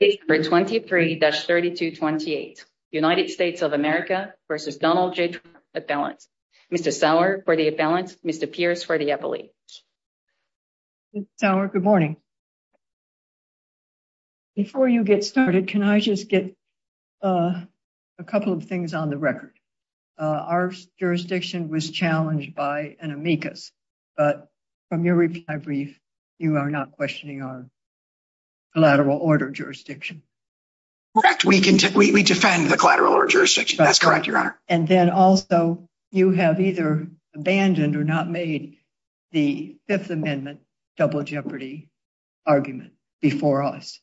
Page number 23-3228 United States of America v. Donald J. Trump Appellant. Mr. Sauer for the appellant, Mr. Pierce for the appellate. Mr. Sauer, good morning. Before you get started, can I just get a couple of things on the record? Our jurisdiction was challenged by an amicus, but from your reply brief you are not questioning our collateral order jurisdiction. Correct. We defend the collateral order jurisdiction. That's correct, Your Honor. And then also you have either abandoned or not made the Fifth Amendment double jeopardy argument before us.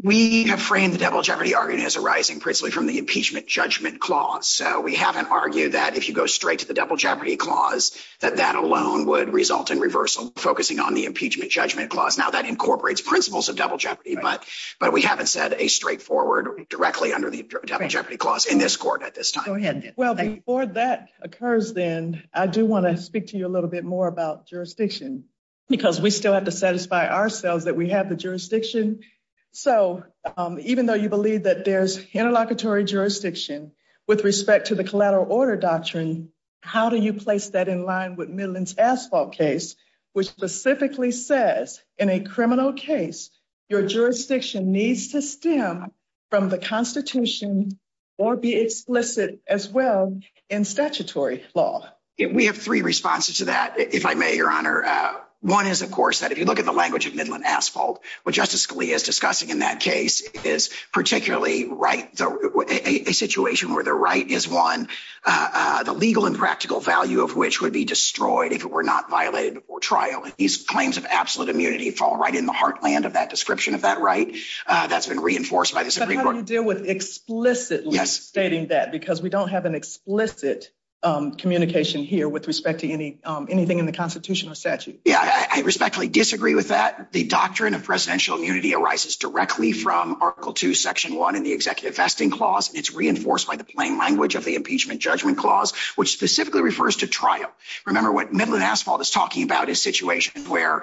We have framed the double jeopardy argument as arising principally from the impeachment judgment clause. So we haven't argued that if you go straight to the double jeopardy clause that that alone would result in reversal focusing on the impeachment judgment clause. Now that incorporates principles of double jeopardy, but we haven't said a straightforward directly under the double jeopardy clause in this court at this time. Well before that occurs then, I do want to speak to you a little bit more about jurisdiction because we still have to satisfy ourselves that we have the jurisdiction. So even though you believe that there's interlocutory jurisdiction with respect to the collateral order doctrine, how do you place that in line with what the statute specifically says in a criminal case? Your jurisdiction needs to stem from the Constitution or be explicit as well in statutory law. We have three responses to that if I may, Your Honor. One is of course that if you look at the language of Midland Asphalt, what Justice Scalia is discussing in that case is particularly a situation where the right is won, the legal and practical value of which would be destroyed if it were not violated before trial, and these claims of absolute immunity fall right in the heartland of that description of that right. That's been reinforced by this. But how do you deal with explicitly stating that because we don't have an explicit communication here with respect to anything in the Constitution or statute? Yeah, I respectfully disagree with that. The doctrine of presidential immunity arises directly from Article II, Section 1 in the Executive Vesting Clause. It's reinforced by the plain language of the impeachment judgment clause, which specifically refers to trial. Remember what Midland Asphalt is talking about is situations where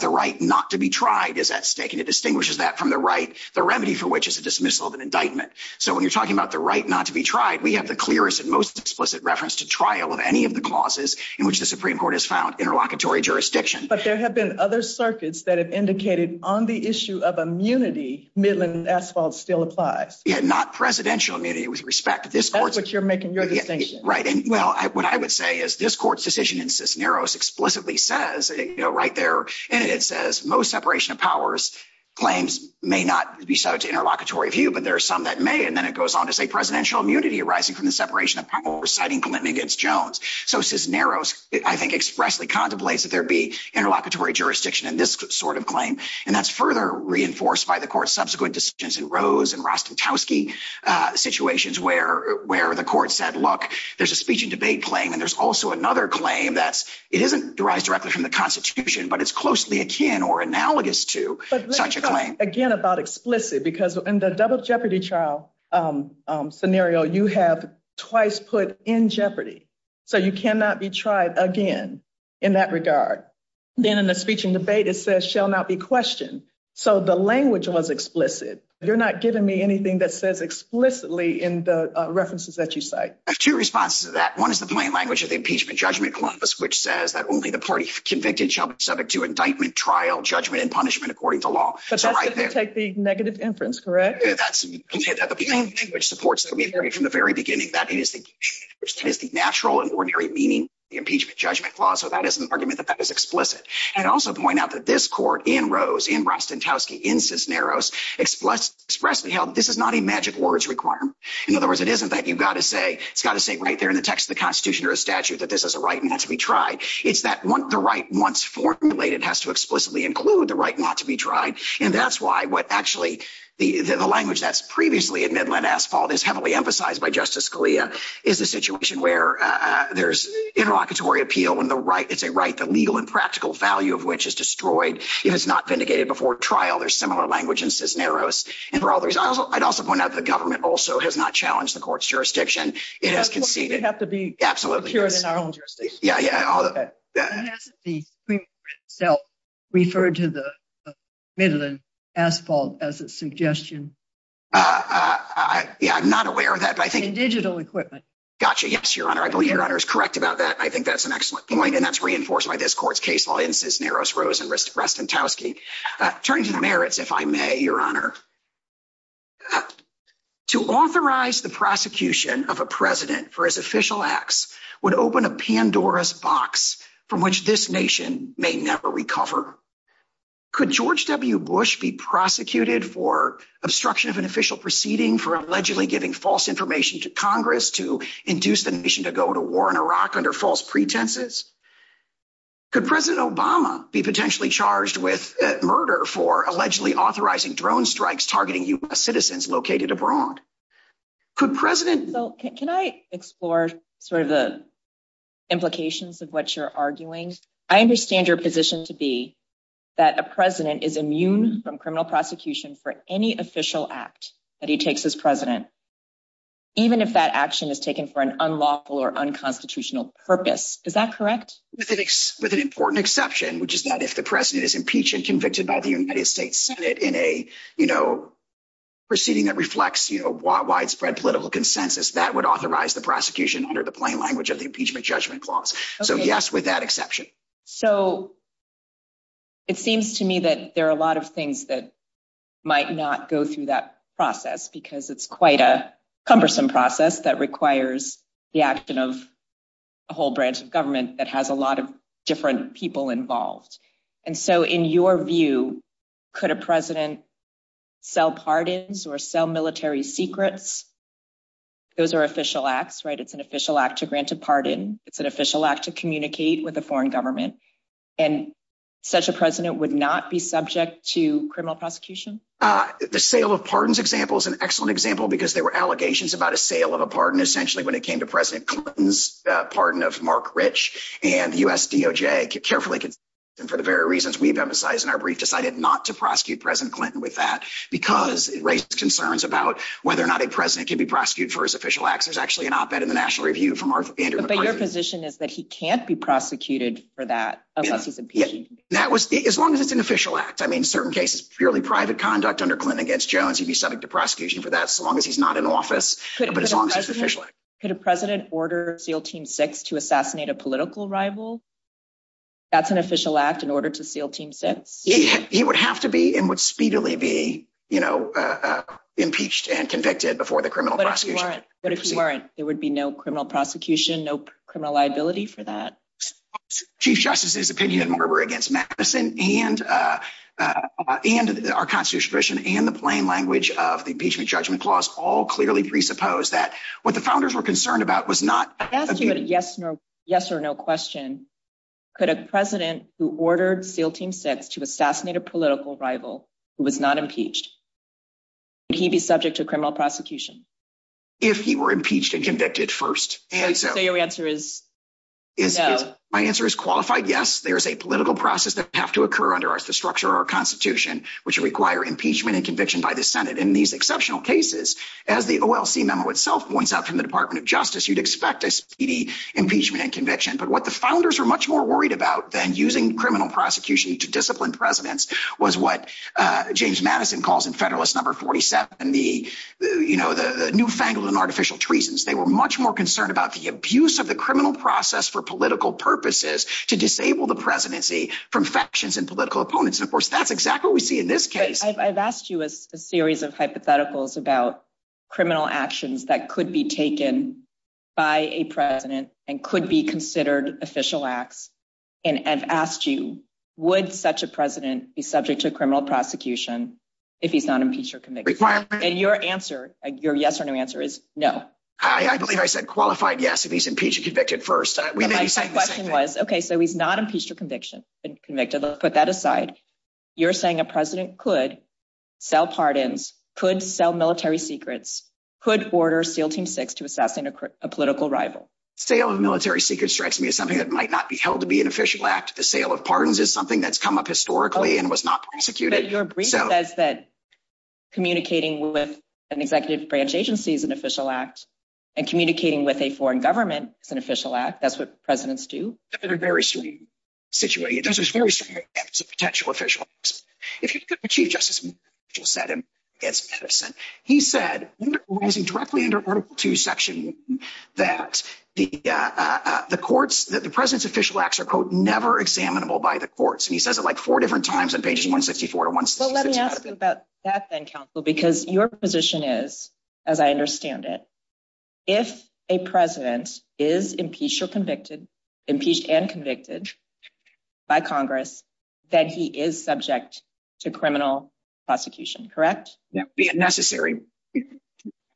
the right not to be tried is at stake, and it distinguishes that from the right, the remedy for which is the dismissal of an indictment. So when you're talking about the right not to be tried, we have the clearest and most explicit reference to trial of any of the clauses in which the Supreme Court has found interlocutory jurisdiction. But there have been other circuits that have indicated on the issue of immunity Midland Asphalt still applies. Yeah, not presidential immunity with respect to that's what you're making your defense. Right, and well, what I would say is this court's decision in Cisneros explicitly says, you know, right there in it says most separation of powers claims may not be subject to interlocutory view, but there are some that may, and then it goes on to say presidential immunity arising from the separation of powers citing Clinton against Jones. So Cisneros, I think, expressly contemplates that there be interlocutory jurisdiction in this sort of claim, and that's further reinforced by the court's subsequent decisions in Rose and Rostatkowski situations where the court said, look, there's a speech and debate claim, and there's also another claim that it isn't derived directly from the Constitution, but it's closely akin or analogous to such a claim. Again, about explicit, because in the double jeopardy trial scenario, you have twice put in jeopardy. So you cannot be tried again in that regard. Then in the speech and debate, it says shall not be questioned. So the language was explicit. You're not giving me anything that says explicitly in the references that you cite. I have two responses to that. One is the plain language of the impeachment judgment clause, which says that only the party convicted shall be subject to indictment, trial, judgment, and punishment according to law. So that's going to take the negative inference, correct? Yeah, that's the only thing which supports it from the very beginning. That is the natural and ordinary meaning of the impeachment judgment clause. So that is an argument that that is explicit. And also to point out that this court in Rose, in Rosentowski, in Cisneros, expressly held this is not a magic words requirement. In other words, it isn't that you've got to say, it's got to say right there in the text of the Constitution or a statute that this is a right not to be tried. It's that the right once formulated has to explicitly include the right not to be tried. And that's why what actually the language that's previously admitted by Nassif all this heavily emphasized by Justice Scalia is a situation where there's interlocutory appeal when it's a right that legal and practical value of which is destroyed. It is not vindicated before trial. There's similar language in Cisneros. And for all these, I'd also point out the government also has not challenged the court's jurisdiction. It has conceded. We have to be sure in our own jurisdiction. Yeah, yeah, all of that. And hasn't the Supreme Court itself referred to the middle of the asphalt as a suggestion? Yeah, I'm not aware of that, but I think- And digital equipment. Gotcha. Yes, Your Honor. I believe Your Honor is correct about that. I think that's an excellent point. And that's reinforced by this court's case law in Cisneros, Rose, and Restantowski. Turning to the merits, if I may, Your Honor. To authorize the prosecution of a president for his official acts would open a Pandora's box from which this nation may never recover. Could George W. Bush be prosecuted for obstruction of an official proceeding for allegedly giving false information to Congress to induce the nation to go to war in Iraq under false pretenses? Could President Obama be potentially charged with murder for allegedly authorizing drone strikes targeting U.S. citizens located abroad? Could President- So, can I explore sort of the implications of what you're arguing? I understand your position to be that a president is amused from criminal prosecution for any official act that he takes as president, even if that action is taken for an unlawful or unconstitutional purpose. Is that correct? With an important exception, which is that if the president is impeached and convicted by the United States Senate in a, you know, proceeding that reflects, you know, widespread political consensus, that would authorize the prosecution under the plain language of the impeachment judgment clause. So, yes, with that exception. So, it seems to me that there are a lot of things that might not go through that process because it's quite a cumbersome process that requires the action of a whole branch of government that has a lot of different people involved. And so, in your view, could a president sell pardons or sell military secrets? Those are official acts, right? It's an official act to grant a pardon. It's an official act to communicate with the foreign government. And such a president would not be subject to criminal prosecution? The sale of pardons example is an excellent example because there were allegations about a sale of a pardon, essentially, when it came to President Clinton's pardon of Mark Rich. And the U.S. DOJ carefully, for the very reasons we've emphasized in our brief, decided not to prosecute President Clinton with that because it raised concerns about whether or not a president can be prosecuted for his official acts. But your position is that he can't be prosecuted for that? As long as it's an official act. I mean, in certain cases, purely private conduct under Clinton against Jones, he'd be subject to prosecution for that as long as he's not in office. Could a president order SEAL Team 6 to assassinate a political rival? That's an official act in order to SEAL Team 6? He would have to be, and would speedily be, you know, impeached and convicted before the criminal prosecution. But if he weren't, there would be no criminal prosecution, no criminal liability for that? Chief Justice's opinion were against Madison and our constitutional tradition and the plain language of the Impeachment Judgment Clause all clearly presuppose that what the founders were concerned about was not... Yes or no question. Could a president who ordered SEAL Team 6 to assassinate a political rival who was not If he were impeached and convicted first. So your answer is no? My answer is qualified yes. There is a political process that has to occur under our structure, our constitution, which require impeachment and conviction by the Senate in these exceptional cases. As the OLC memo itself points out from the Department of Justice, you'd expect a speedy impeachment and conviction. But what the founders are much more worried about than using criminal prosecution to discipline presidents was what James Madison calls in Federalist Number 47, you know, the newfangled and artificial treasons. They were much more concerned about the abuse of the criminal process for political purposes to disable the presidency from factions and political opponents. Of course, that's exactly what we see in this case. I've asked you a series of hypotheticals about criminal actions that could be taken by a president and could be considered official acts. And I've asked you, would such a president be subject to criminal prosecution if he's not impeached or convicted? And your answer, your yes or no answer is no. I believe I said qualified yes if he's impeached or convicted first. My question was, okay, so he's not impeached or convicted. Let's put that aside. You're saying a president could sell pardons, could sell military secrets, could order SEAL Team 6 to assassinate a political rival. Sale of military secrets strikes me as something that might not be held to be an official act. The sale of pardons is something that's come up historically and was not prosecuted. Your brief says that communicating with an executive branch agency is an official act, and communicating with a foreign government is an official act. That's what presidents do. In a very similar situation, this is very similar to potential official acts. If he's going to achieve justice, he'll set him against Edison. He said, directly under Article 2, Section 1, that the president's official acts are, quote, never examinable by the courts. He says it four different times on page 164 to 166. Let me ask you about that then, counsel, because your position is, as I understand it, if a president is impeached or convicted, impeached and convicted by Congress, that he is subject to criminal prosecution, correct? Be it necessary, he's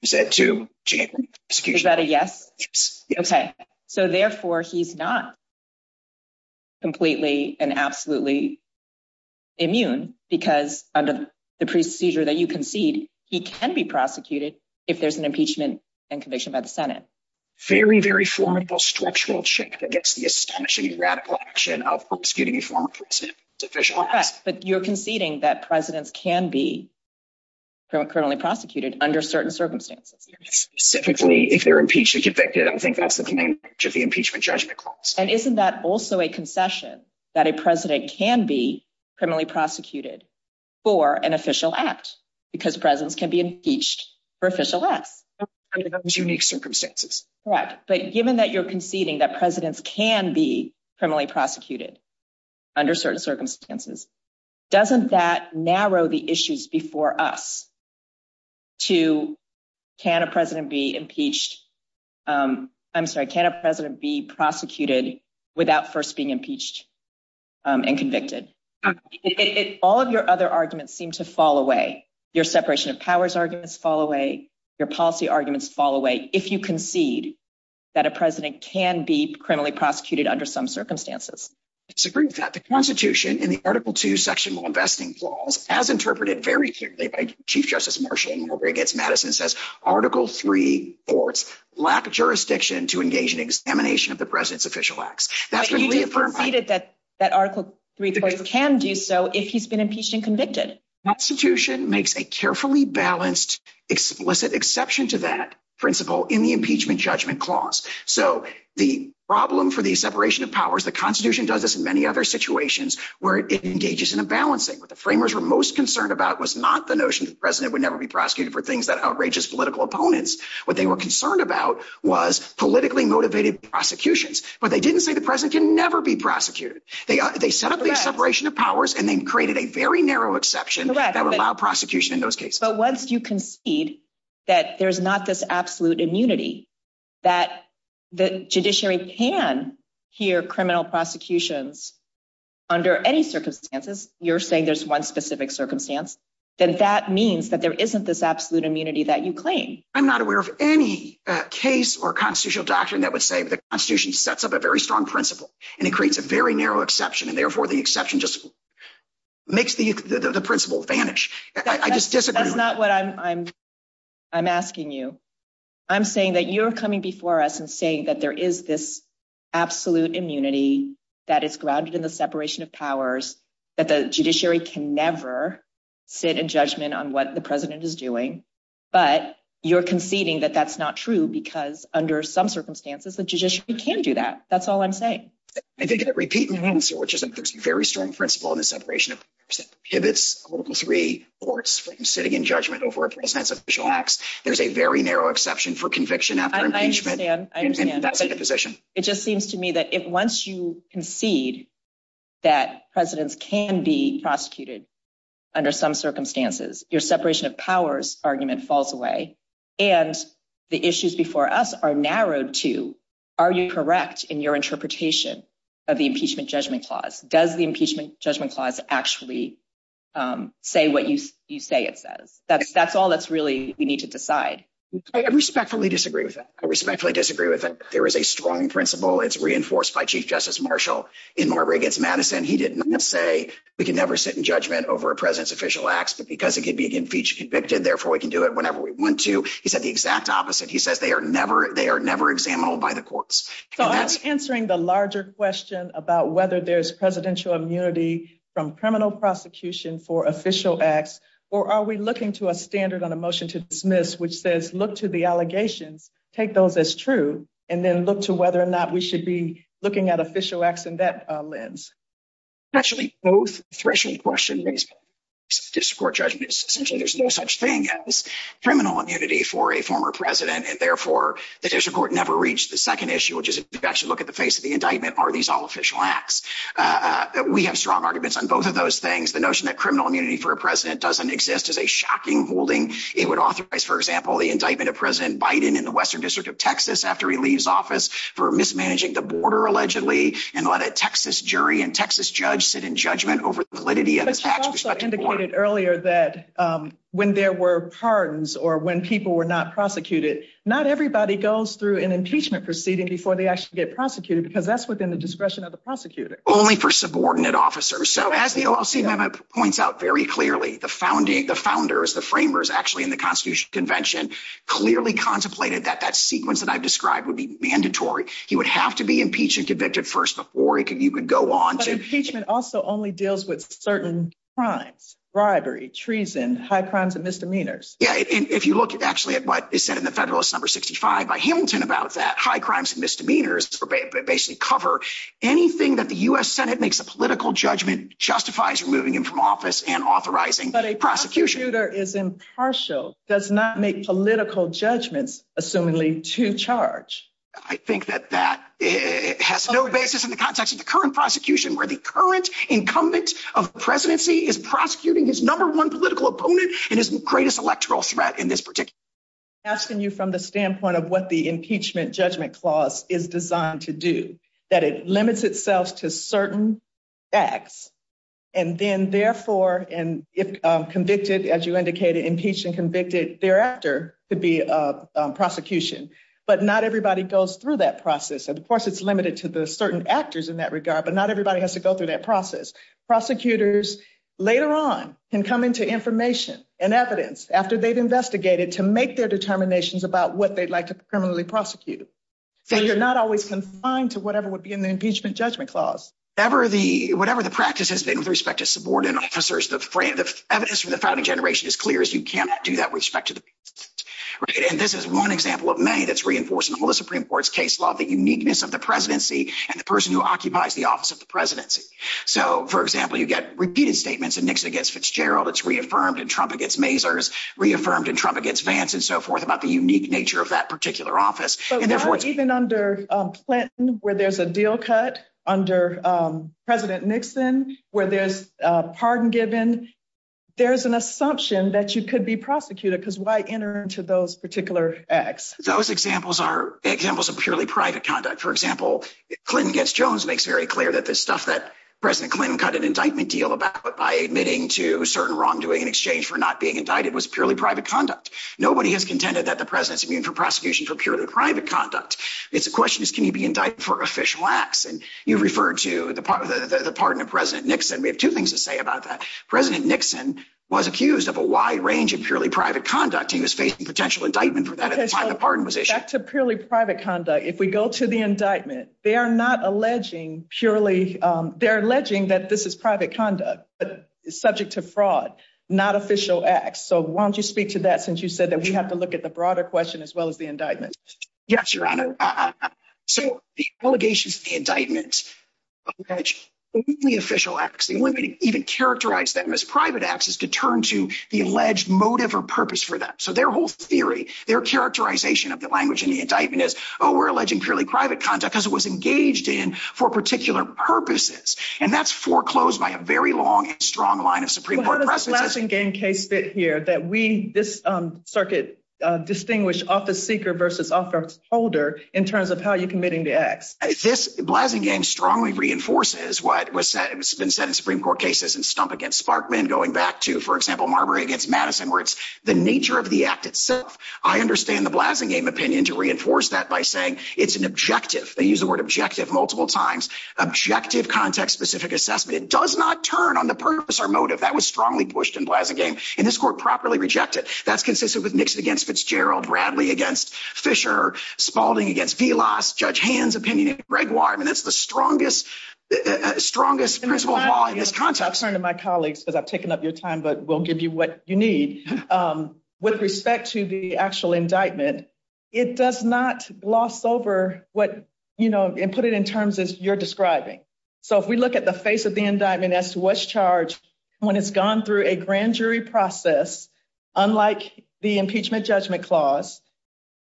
set to champion prosecution. Is that a yes? Yes. Therefore, he's not completely and absolutely immune, because under the procedure that you concede, he can be prosecuted if there's an impeachment and conviction by the Senate. Very, very formidable structural check against the astonishing radical action of obscuring a former president's official acts. You're conceding that presidents can be criminally prosecuted under certain circumstances. Specifically, if they're impeached or convicted, I think that's the main part of the impeachment judgment clause. And isn't that also a concession, that a president can be criminally prosecuted for an official act, because presidents can be impeached for official acts? Under those unique circumstances. Correct. But given that you're conceding that presidents can be criminally prosecuted under certain circumstances, doesn't that narrow the issues before us to can a president be impeached? I'm sorry, can a president be prosecuted without first being impeached and convicted? All of your other arguments seem to fall away. Your separation of powers arguments fall away. Your policy arguments fall away. If you concede that a president can be criminally prosecuted under some circumstances. It's a great fact. The Constitution and the Article II sectional investing clause, as interpreted very Chief Justice Marshall in Norway against Madison says, Article III courts lack jurisdiction to engage in examination of the president's official acts. That's what you reaffirm. But you've stated that Article III can do so if he's been impeached and convicted. Constitution makes a carefully balanced explicit exception to that principle in the impeachment judgment clause. So the problem for the separation of powers, the Constitution does this in many other situations where it engages in a balancing. What the framers were most concerned about was not the notion that the president would never be prosecuted for things that outrageous political opponents. What they were concerned about was politically motivated prosecutions. But they didn't say the president can never be prosecuted. They set up the separation of powers and then created a very narrow exception that would allow prosecution in those cases. But once you concede that there's not this absolute immunity that the judiciary can hear prosecutions under any circumstances, you're saying there's one specific circumstance, then that means that there isn't this absolute immunity that you claim. I'm not aware of any case or constitutional doctrine that would say the Constitution sets up a very strong principle and it creates a very narrow exception. And therefore, the exception just makes the principle advantage. That's not what I'm asking you. I'm saying that you're coming before us and saying that there is this absolute immunity that is grounded in the separation of powers, that the judiciary can never sit in judgment on what the president is doing. But you're conceding that that's not true because under some circumstances, the judiciary can do that. That's all I'm saying. I think that repeating the answer, which is a very strong principle in the separation of powers, if it's Article III or it's sitting in judgment over a president's official There's a very narrow exception for conviction after impeachment. It just seems to me that once you concede that presidents can be prosecuted under some circumstances, your separation of powers argument falls away and the issues before us are narrowed to, are you correct in your interpretation of the impeachment judgment clause? Does the impeachment judgment clause actually say what you say it says? That's all that's really, we need to decide. I respectfully disagree with that. I respectfully disagree with that. There is a strong principle. It's reinforced by Chief Justice Marshall in Marbury against Madison. He didn't say we can never sit in judgment over a president's official acts, but because it could be impeached, convicted, therefore we can do it whenever we want to. He said the exact opposite. He says they are never examinable by the courts. So I'm answering the larger question about whether there's presidential immunity from to a standard on a motion to dismiss, which says, look to the allegation, take those as true, and then look to whether or not we should be looking at official acts in that lens. Especially both threshold questions, there's no such thing as criminal immunity for a former president and therefore the judicial court never reached the second issue, which is actually look at the face of the indictment. Are these all official acts? We have strong arguments on both of those things. The notion that criminal immunity for a president doesn't exist is a shocking holding. It would authorize, for example, the indictment of President Biden in the Western District of Texas after he leaves office for mismanaging the border, allegedly, and let a Texas jury and Texas judge sit in judgment over validity of attacks. But you also indicated earlier that when there were pardons or when people were not prosecuted, not everybody goes through an impeachment proceeding before they actually get prosecuted because that's within the discretion of the prosecutor. Only for subordinate officers. As the OLC points out very clearly, the founders, the framers, actually in the Constitution Convention, clearly contemplated that that sequence that I've described would be mandatory. He would have to be impeached and convicted first before you could go on. But impeachment also only deals with certain crimes, bribery, treason, high crimes and misdemeanors. Yeah, if you look actually at what is said in the Federalist Number 65 by Hamilton about that, high crimes and misdemeanors basically cover anything that the U.S. Senate makes a political judgment, justifies removing him from office and authorizing prosecution. But a prosecutor is impartial, does not make political judgments, assumingly, to charge. I think that that has no basis in the context of the current prosecution where the current incumbent of presidency is prosecuting his number one political opponent and his greatest electoral threat in this particular case. Asking you from the standpoint of what the impeachment judgment clause is designed to do, that it limits itself to certain acts. And then, therefore, and convicted, as you indicated, impeached and convicted their actor to be a prosecution. But not everybody goes through that process. And of course, it's limited to the certain actors in that regard, but not everybody has to go through that process. Prosecutors later on can come into information and evidence after they've investigated to make their determinations about what they'd like to criminally prosecute. So you're not always confined to whatever would be in the impeachment judgment clause. Whatever the practice has been with respect to subordinate officers, the evidence from the founding generation is clear as you cannot do that with respect to the president. And this is one example of many that's reinforcing the Supreme Court's case law, the uniqueness of the presidency and the person who occupies the office of the presidency. So, for example, you get repeated statements in Nixon against Fitzgerald that's reaffirmed in Trump against Mazars, reaffirmed in Trump against Vance and so forth about the unique nature of that particular office. Even under Clinton, where there's a deal cut, under President Nixon, where there's a pardon given, there's an assumption that you could be prosecuted, because why enter into those particular acts? Those examples are examples of purely private conduct. For example, Clinton gets, Jones makes very clear that the stuff that President Clinton cut an indictment deal about by admitting to certain wrongdoing in exchange for not being indicted was purely private conduct. Nobody has contended that the president's immune for prosecution for purely private conduct. It's the question is, can you be indicted for official acts? And you referred to the pardon of President Nixon. We have two things to say about that. President Nixon was accused of a wide range of purely private conduct. He was facing potential indictment for that if a pardon was issued. That's a purely private conduct. If we go to the indictment, they are not alleging purely, they're alleging that this is private conduct, subject to fraud, not official acts. So why don't you speak to that since you said that we have to look at the broader question as well as the indictment. Yes, Your Honor. So the allegations of the indictment, the official acts, the only way to even characterize them as private acts is to turn to the alleged motive or purpose for that. So their whole theory, their characterization of the language in the indictment is, oh, we're alleging purely private conduct because it was engaged in for particular purposes. And that's foreclosed by a very long and strong line of Supreme Court precedent. How does the Blasingame case fit here that we, this circuit, distinguish office seeker versus office holder in terms of how you're committing the act? This, Blasingame strongly reinforces what was said, it's been said in Supreme Court cases in Stump v. Sparkman going back to, for example, Marbury v. Madison where it's the nature of the act itself. I understand the Blasingame opinion to reinforce that by saying it's an objective. They use the word objective multiple times. Objective, context-specific assessment. It does not turn on the purpose or motive. That was strongly pushed in Blasingame and this court properly rejected. That's consistent with Nixon against Fitzgerald, Bradley against Fischer, Spalding against Velas, Judge Hand's opinion, Greg Waterman, that's the strongest, strongest individual law in his context. I'll turn to my colleagues because I've taken up your time, but we'll give you what you need. With respect to the actual indictment, it does not gloss over what, you know, and put it in terms of your describing. So if we look at the face of the indictment as to what's charged when it's gone through a grand jury process, unlike the impeachment judgment clause,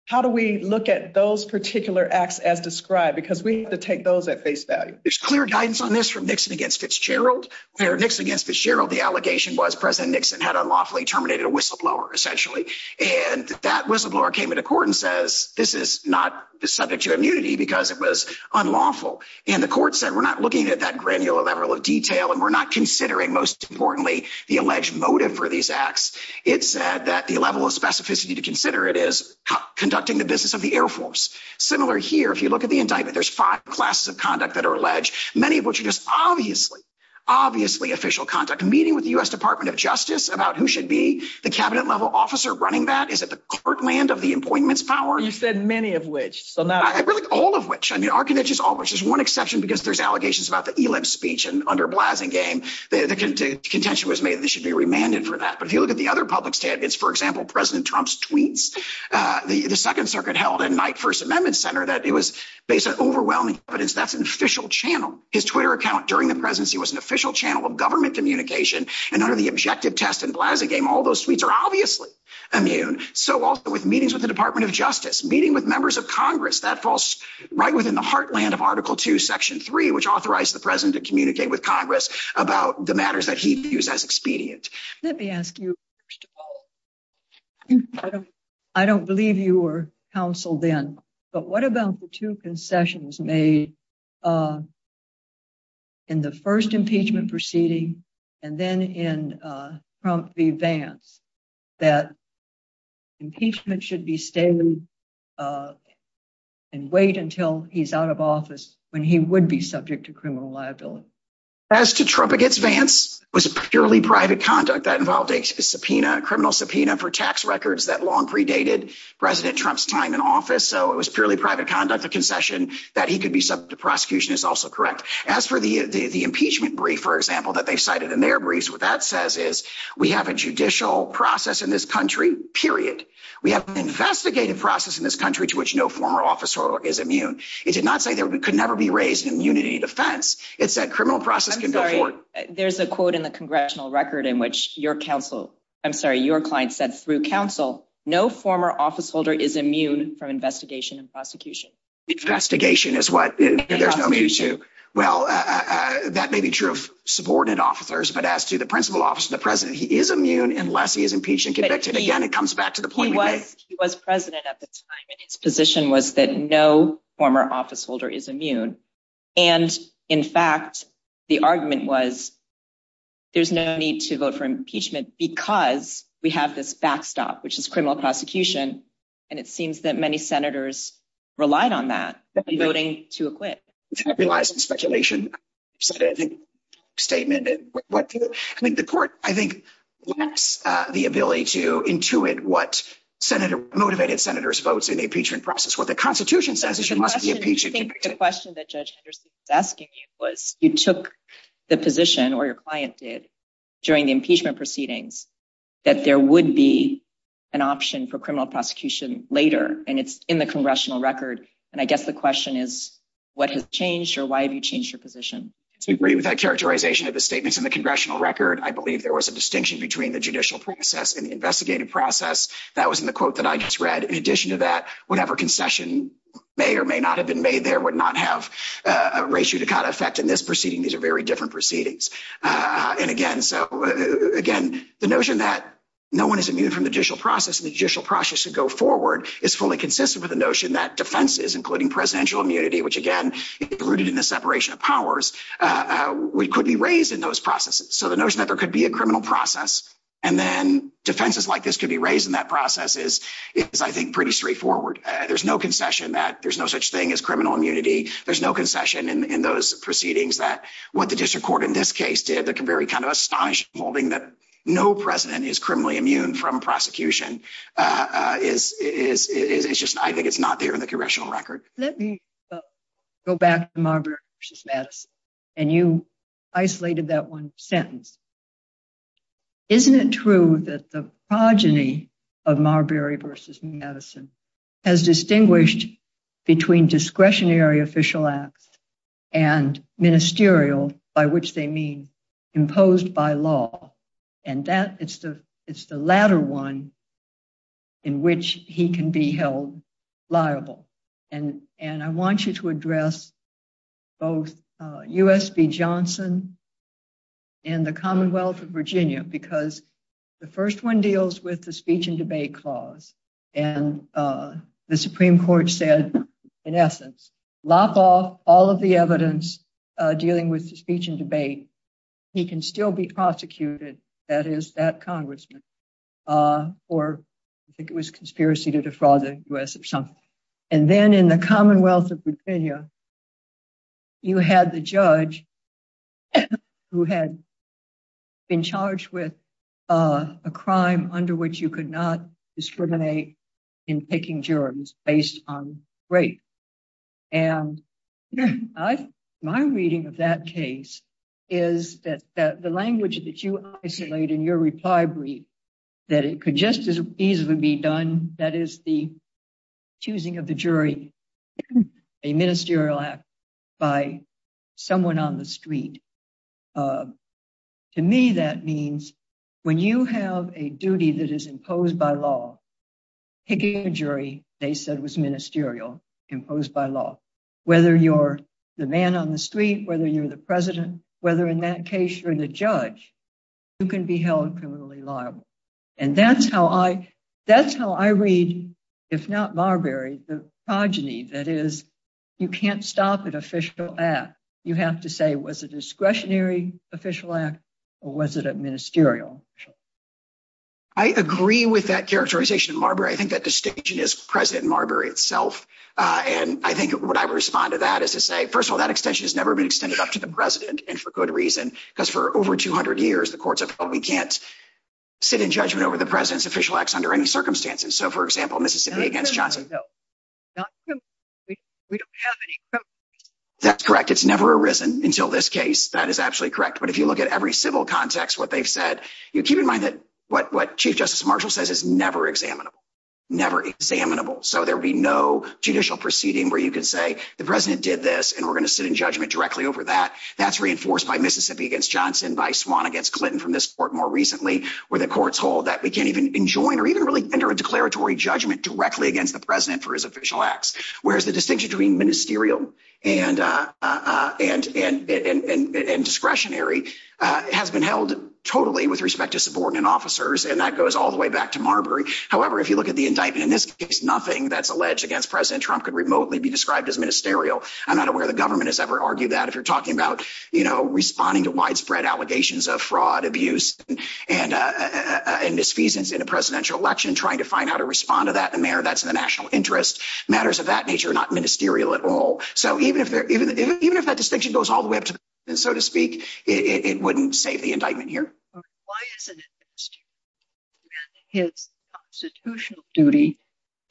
how do we look at those particular acts as described? Because we have to take those at face value. There's clear guidance on this from Nixon against Fitzgerald. When Nixon against Fitzgerald, the allegation was President Nixon had unlawfully terminated a whistleblower, essentially. And that whistleblower came into court and says, this is not subject to immunity because it was unlawful. And the court said, we're not looking at that granular level of detail and we're not considering, most importantly, the alleged motive for these acts. It said that the level of specificity to consider it is conducting the business of the Air Force. Similar here, if you look at the indictment, there's five classes of conduct that are alleged, many of which are just obviously, obviously official conduct. A meeting with the U.S. Department of Justice about who should be the cabinet level officer running that. Is it the court land of the appointments power? You said many of which. All of which. I mean, Archivage is almost just one exception because there's allegations about the speech and under Blasingame, the contention was made that they should be remanded for that. But if you look at the other public statements, for example, President Trump's tweets, the Second Circuit held in my First Amendment Center that it was based on overwhelming evidence that's an official channel. His Twitter account during the presidency was an official channel of government communication. And under the objective test and Blasingame, all those tweets are obviously immune. So also with meetings with the Department of Justice, meeting with members of Congress, that falls right within the heartland of Article 2, Section 3, which authorized the president to communicate with Congress about the matters that he views as expedient. Let me ask you, first of all, I don't believe you were counsel then, but what about the two concessions made in the first impeachment proceeding and then in Trump v. Vance that impeachment should be standing and wait until he's out of office when he would be subject to criminal liability? As to Trump v. Vance, it was purely private conduct that involved a criminal subpoena for tax records that long predated President Trump's time in office. So it was purely private conduct, the concession that he could be subject to prosecution is also correct. As for the impeachment brief, for example, that they cited in their briefs, what that We have an investigative process in this country to which no former officer is immune. It did not say there could never be raised immunity defense. It said criminal process can go forward. There's a quote in the congressional record in which your counsel, I'm sorry, your client said through counsel, no former officeholder is immune from investigation and prosecution. Investigation is what there's no use to. Well, that may be true of supported officers, but as to the principal officer, the president, he is immune unless he is impeached and convicted. Again, it comes back to the point. He was president at the time and his position was that no former officeholder is immune. And in fact, the argument was there's no need to vote for impeachment because we have this backstop, which is criminal prosecution. And it seems that many senators relied on that voting to acquit. I realize the speculation statement. The court, I think, lacks the ability to intuit what motivated senators votes in the impeachment process. What the Constitution says is you must be impeached. I think the question that Judge Henderson was asking was you took the position or your client did during impeachment proceedings that there would be an option for criminal prosecution later. And it's in the congressional record. And I guess the question is, what has changed or why have you changed your position? I agree with that characterization of the statements in the congressional record. I believe there was a distinction between the judicial process and the investigative process. That was in the quote that I just read. In addition to that, whatever concession may or may not have been made, there would not have a ratio to cut effect in this proceeding. These are very different proceedings. And again, so again, the notion that no one is immune from the judicial process, the judicial process to go forward is fully consistent with the notion that defenses, including presidential immunity, which, again, rooted in the separation of powers, could be raised in those processes. So the notion that there could be a criminal process and then defenses like this could be raised in that process is, I think, pretty straightforward. There's no concession that there's no such thing as criminal immunity. There's no concession in those proceedings that what the district court in this case did that can very kind of astonish holding that no president is criminally immune from prosecution is just, I think, it's not there in the congressional record. Let me go back to Marbury v. Madison. And you isolated that one sentence. Isn't it true that the progeny of Marbury v. Madison has distinguished between discretionary official acts and ministerial, by which they mean imposed by law? And that is the latter one in which he can be held liable. And I want you to address both U.S. v. Johnson and the Commonwealth of Virginia, because the first one deals with the speech and debate clause. And the Supreme Court said, in essence, lop off all of the evidence dealing with the speech and debate, he can still be prosecuted, that is, that congressman, for, I think it was conspiracy to defraud the U.S. or something. And then in the Commonwealth of Virginia, you had the judge who had been charged with a crime under which you could not discriminate in picking jurors based on race. And my reading of that case is that the language that you isolate in your reply brief, that it could just as easily be done, that is the choosing of the jury, a ministerial act by someone on the street. To me, that means when you have a duty that is imposed by law, picking a jury, they said was ministerial, imposed by law. Whether you're the man on the street, whether you're the president, whether in that case you're the judge, you can be held criminally liable. And that's how I, that's how I read, if not Marbury, the progeny, that is, you can't stop an official act. You have to say, was it a discretionary official act or was it a ministerial? I agree with that characterization, Marbury. I think that distinction is present in Marbury itself. And I think what I would respond to that is to say, first of all, that extension has never been extended up to the president. And for good reason, because for over 200 years, the courts have told me, we can't sit in judgment over the president's official acts under any circumstances. So for example, Mississippi against Johnson. No, not true. We don't have any proof. That's correct. It's never arisen until this case. That is actually correct. But if you look at every civil context, what they've said, keep in mind that what Chief Justice Marshall says is never examinable. Never examinable. So there'll be no judicial proceeding where you can say the president did this, and we're going to sit in judgment directly over that. That's reinforced by Mississippi against Johnson, by Swan against Clinton from this court more recently, where the courts hold that we can't even enjoin or even really enter a declaratory judgment directly against the president for his official acts. Whereas the distinction between ministerial and discretionary has been held totally with respect to subordinate officers. And that goes all the way back to Marbury. However, if you look at the indictment in this case, nothing that's alleged against President Trump could remotely be described as ministerial. I don't know where the government has ever argued that if you're talking about, you know, responding to widespread allegations of fraud, abuse, and misfeasance in a presidential election, trying to find out how to respond to that in a manner that's in the national interest. Matters of that nature are not ministerial at all. So even if that distinction goes all the way up to the president, so to speak, it wouldn't save the indictment here. Why isn't it ministerial? His constitutional duty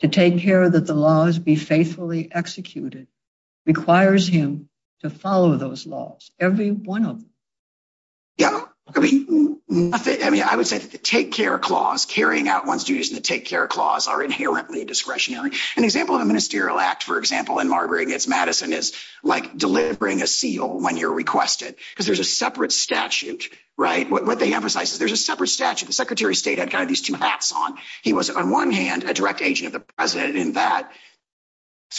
to take care that the laws be faithfully executed requires him to follow those laws. Every one of them. Yeah, I mean, I would say the take care clause, carrying out one's duties in the take care clause are inherently discretionary. An example of a ministerial act, for example, in Marbury against Madison is like delivering a seal when you're requested. Because there's a separate statute, right? What they emphasize is there's a separate statute. The secretary of state had kind of these two hats on. He was, on one hand, a direct agent of the president. And that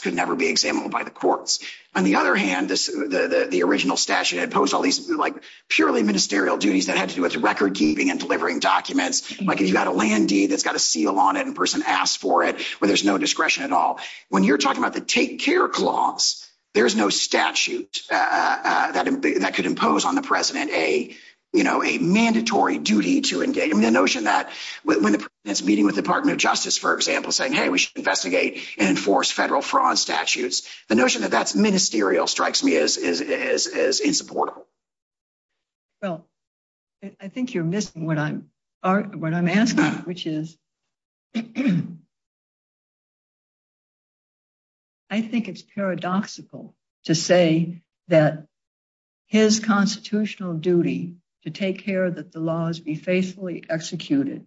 could never be examined by the courts. On the other hand, the original statute imposed all these purely ministerial duties that had to do with record keeping and delivering documents. Like, you've got a land deed that's got a seal on it and a person asked for it, where there's no discretion at all. When you're talking about the take care clause, there's no statute that could impose on the mandatory duty to engage. I mean, the notion that when the president's meeting with the Department of Justice, for example, saying, hey, we should investigate and enforce federal fraud statutes, the notion that that's ministerial strikes me as insupportable. Well, I think you're missing what I'm asking, which is, I think it's paradoxical to say that his constitutional duty to take care that the laws be faithfully executed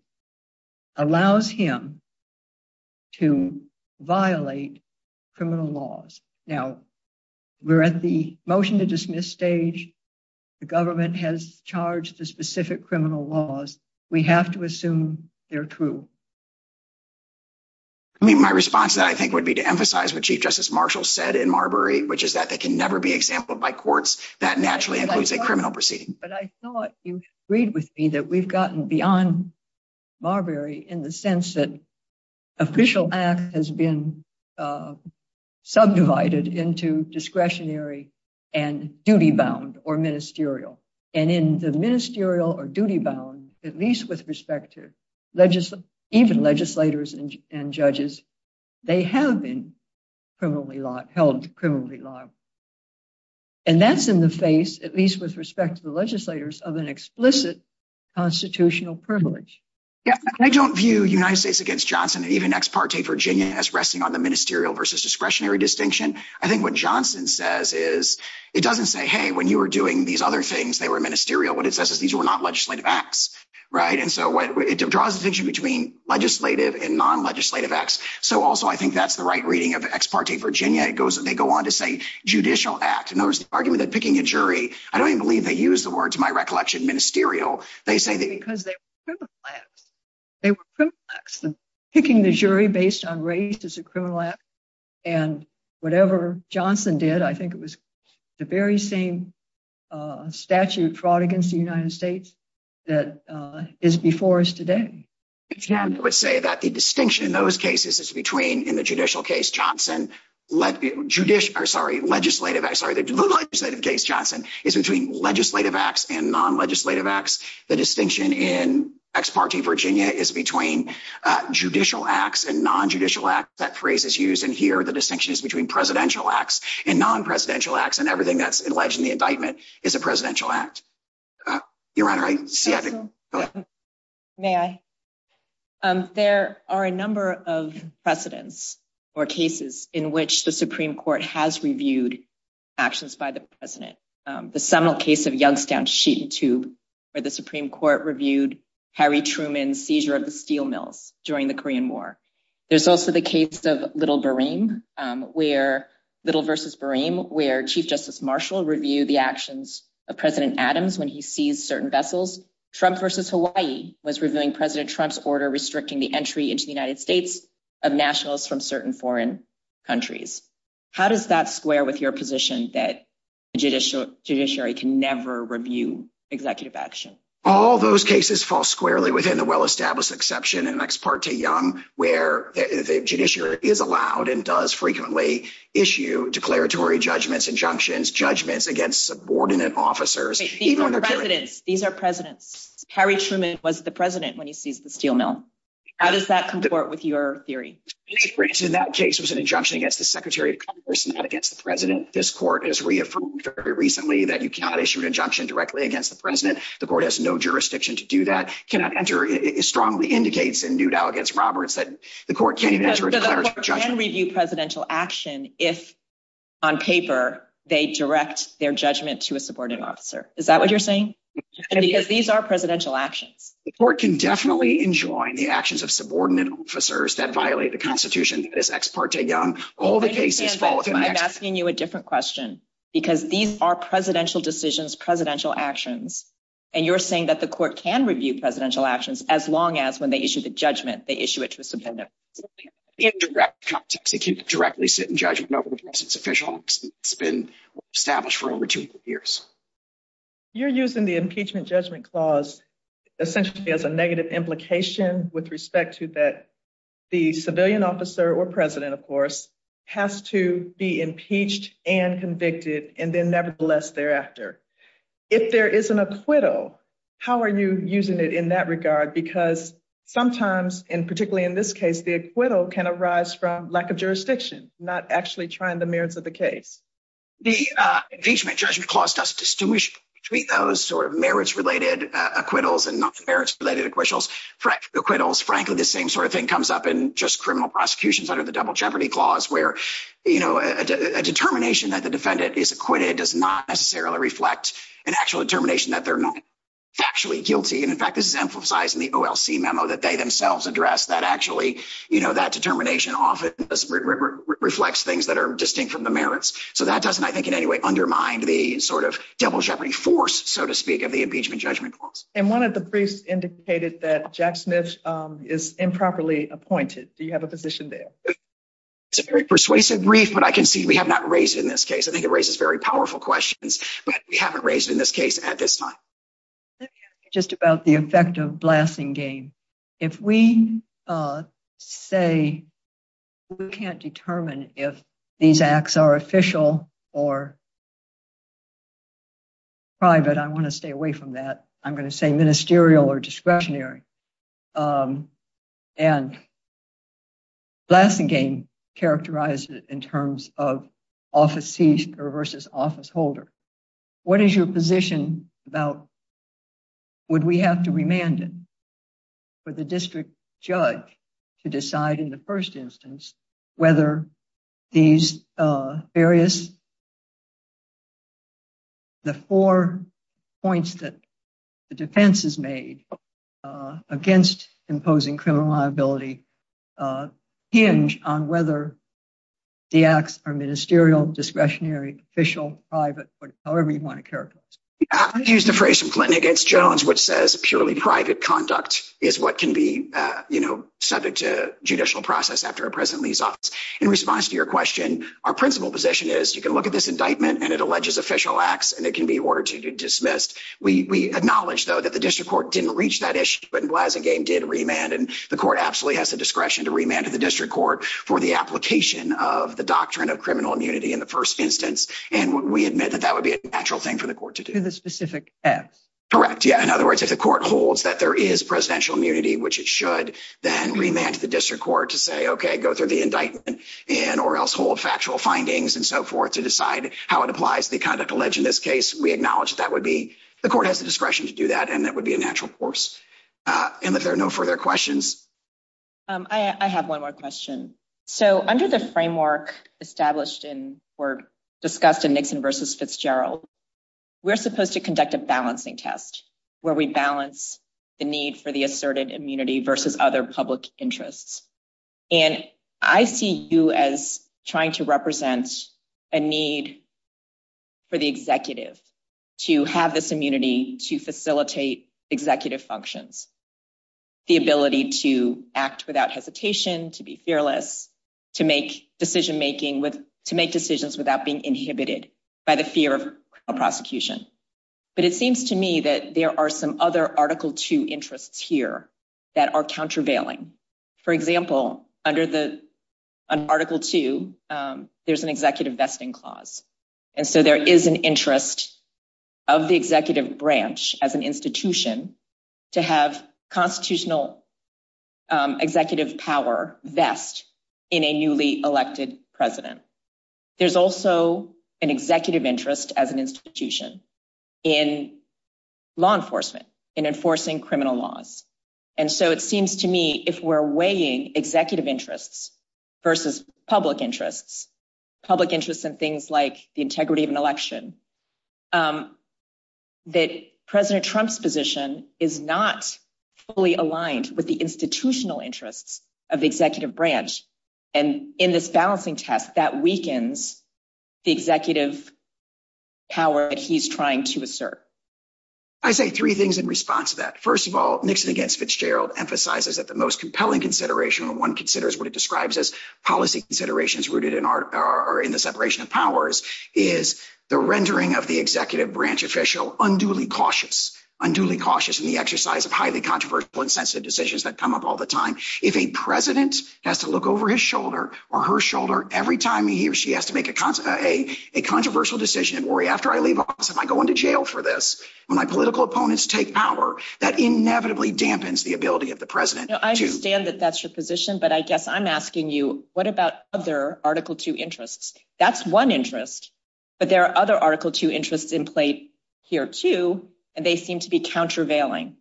allows him to violate criminal laws. Now, we're at the motion to dismiss stage. The government has charged the specific criminal laws. We have to assume they're true. I mean, my response to that, I think, would be to emphasize what Chief Justice Marshall said in Marbury, which is that they can never be exemplified courts. That naturally includes a criminal proceeding. But I thought you agreed with me that we've gotten beyond Marbury in the sense that official act has been subdivided into discretionary and duty bound or ministerial. And in the ministerial or duty bound, at least with respect to even legislators and judges, they have been held to criminally law. And that's in the face, at least with respect to the legislators, of an explicit constitutional privilege. Yeah, I don't view United States against Johnson or even Ex parte Virginia as resting on the ministerial versus discretionary distinction. I think what Johnson says is, it doesn't say, hey, when you were doing these other things, they were ministerial, but it says that these were not legislative acts. Right? And so it draws the distinction between legislative and non-legislative acts. So also, I think that's the right reading of Ex parte Virginia. It goes, they go on to say judicial act. And there's an argument that picking a jury, I don't even believe they use the words, my recollection, ministerial. They say that- Because they were criminal acts. They were criminal acts. Picking the jury based on race is a criminal act. And whatever Johnson did, I think it was the very same statute of fraud against the United States that is before us today. I would say that the distinction in those cases is between, in the judicial case, Johnson, judicial, sorry, legislative, sorry, the non-legislative case, Johnson, is between legislative acts and non-legislative acts. The distinction in Ex parte Virginia is between judicial acts and non-judicial acts. That phrase is used in here. The distinction is between presidential acts and non-presidential acts. And everything that's alleged in the indictment is a presidential act. Your Honor, I see- May I? There are a number of precedents or cases in which the Supreme Court has reviewed actions by the president. The seminal case of Youngstown Sheet and Tube, where the Supreme Court reviewed Harry Truman's seizure of the steel mills during the Korean War. There's also the case of Little v. Boreem, where Chief Justice Marshall reviewed the actions of President Adams when he seized certain vessels. Trump v. Hawaii was reviewing President Trump's order restricting the entry into the United States of nationalists from certain foreign countries. How does that square with your position that the judiciary can never review executive actions? All those cases fall squarely within the well-established exception in Ex parte Young, where the judiciary is allowed and does frequently issue declaratory judgments, injunctions, judgments against subordinate officers. These are precedents. These are precedents. Harry Truman wasn't the president when he seized the steel mill. How does that comport with your theory? In that case, there's an injunction against the Secretary of Commerce, not against the president. This court has reaffirmed very recently that you cannot issue an injunction directly against the president. The court has no jurisdiction to do that. Cannot enter strongly indicates in Newt Allegance Roberts that the court can review presidential action if, on paper, they direct their judgment to a subordinate officer. Is that what you're saying? These are presidential actions. The court can definitely enjoin the actions of subordinate officers that violate the Constitution as Ex parte Young. I'm asking you a different question because these are presidential decisions, presidential actions, and you're saying that the court can review presidential actions as long as when they issue the judgment, they issue it to a subordinate officer. In direct context, it can't directly sit in judgment unless it's official. It's been established for over 200 years. You're using the impeachment judgment clause essentially as a negative implication with respect to that the civilian officer or president, of course, has to be impeached and convicted and then, nevertheless, thereafter. If there isn't acquittal, how are you using it in that regard? Because sometimes, and particularly in this case, the acquittal can arise from lack of jurisdiction, not actually trying the merits of the case. The impeachment judgment clause doesn't distinguish between those sort of merits-related acquittals and non-merits-related acquittals. Frankly, the same sort of thing comes up in just criminal prosecutions under the double jeopardy clause where a determination that the defendant is acquitted does not necessarily reflect an actual determination that they're not actually guilty. In fact, this is emphasized in the OLC memo that they themselves addressed that actually that determination often reflects things that are distinct from the merits. That doesn't, I think, in any way undermine the double jeopardy force, so to speak, of the impeachment judgment clause. One of the briefs indicated that Jack Smith is improperly appointed. Do you have a position there? It's a very persuasive brief, but I can see we have not raised in this case. It raises very powerful questions, but we haven't raised in this case at this time. Let me ask you just about the effect of blasting game. If we say we can't determine if these acts are official or private, I want to stay away from that. I'm going to say ministerial or discretionary. Blasting game characterized it in terms of office seizure versus office holder. What is your position about would we have to remand it for the district judge to decide in the first instance whether the four points that the defense has made against imposing criminal liability hinge on whether the acts are ministerial, discretionary, official, private, or however you want to characterize it? I'm going to use the phrase from Clinton against Jones, which says purely private conduct is what can be subject to judicial process after a president leaves office. In response to your question, our principal position is you can look at this indictment and it alleges official acts, and it can be ordered to be dismissed. We acknowledge, though, that the district court didn't reach that issue, but blasting game did remand. The court absolutely has the discretion to remand to the district court for the application of the doctrine of criminal immunity in the first instance, and we admit that that would be a natural thing for the court to do. To the specific act. Correct, yeah. In other words, if the court holds that there is presidential immunity, which it should, then remand to the district court to say, okay, go through the indictment or else hold factual findings and so forth to decide how it applies to the conduct alleged in this case, we acknowledge that would be, the court has the discretion to do that, and that would be a natural course. And if there are no further questions. I have one more question. Under the framework established or discussed in Nixon versus Fitzgerald, we're supposed to conduct a balancing test where we balance the need for the asserted immunity versus other public interests. And I see you as trying to represent a need for the executive to have this immunity to facilitate executive functions. The ability to act without hesitation, to be fearless, to make decision making with to make decisions without being inhibited by the fear of prosecution. But it seems to me that there are some other article two interests here that are countervailing. For example, under the article two, there's an executive vesting clause. And so there is an interest of the executive branch as an institution to have constitutional executive power vest in a newly elected president. There's also an executive interest as an institution in law enforcement, in enforcing criminal laws. And so it seems to me if we're weighing executive interests versus public interests, public interests and things like the integrity of an election, that President Trump's position is not fully aligned with the institutional interests of the executive branch. And in this balancing test, that weakens the executive power that he's trying to assert. I say three things in response to that. First of all, Nixon against Fitzgerald emphasizes that the most compelling consideration when one considers what it describes as policy considerations rooted in the separation of powers is the rendering of the executive branch official unduly cautious, unduly cautious in the exercise of highly controversial and sensitive decisions that come up all the time. If a president has to look over his shoulder or her shoulder every time he or she has to make a controversial decision and worry after I leave office, am I going to jail for this? When my political opponents take power, that inevitably dampens the ability of the president. Now, I understand that that's your position, but I guess I'm asking you, what about other article two interests? That's one interest. But there are other article two interests in play here too. And they seem to be countervailing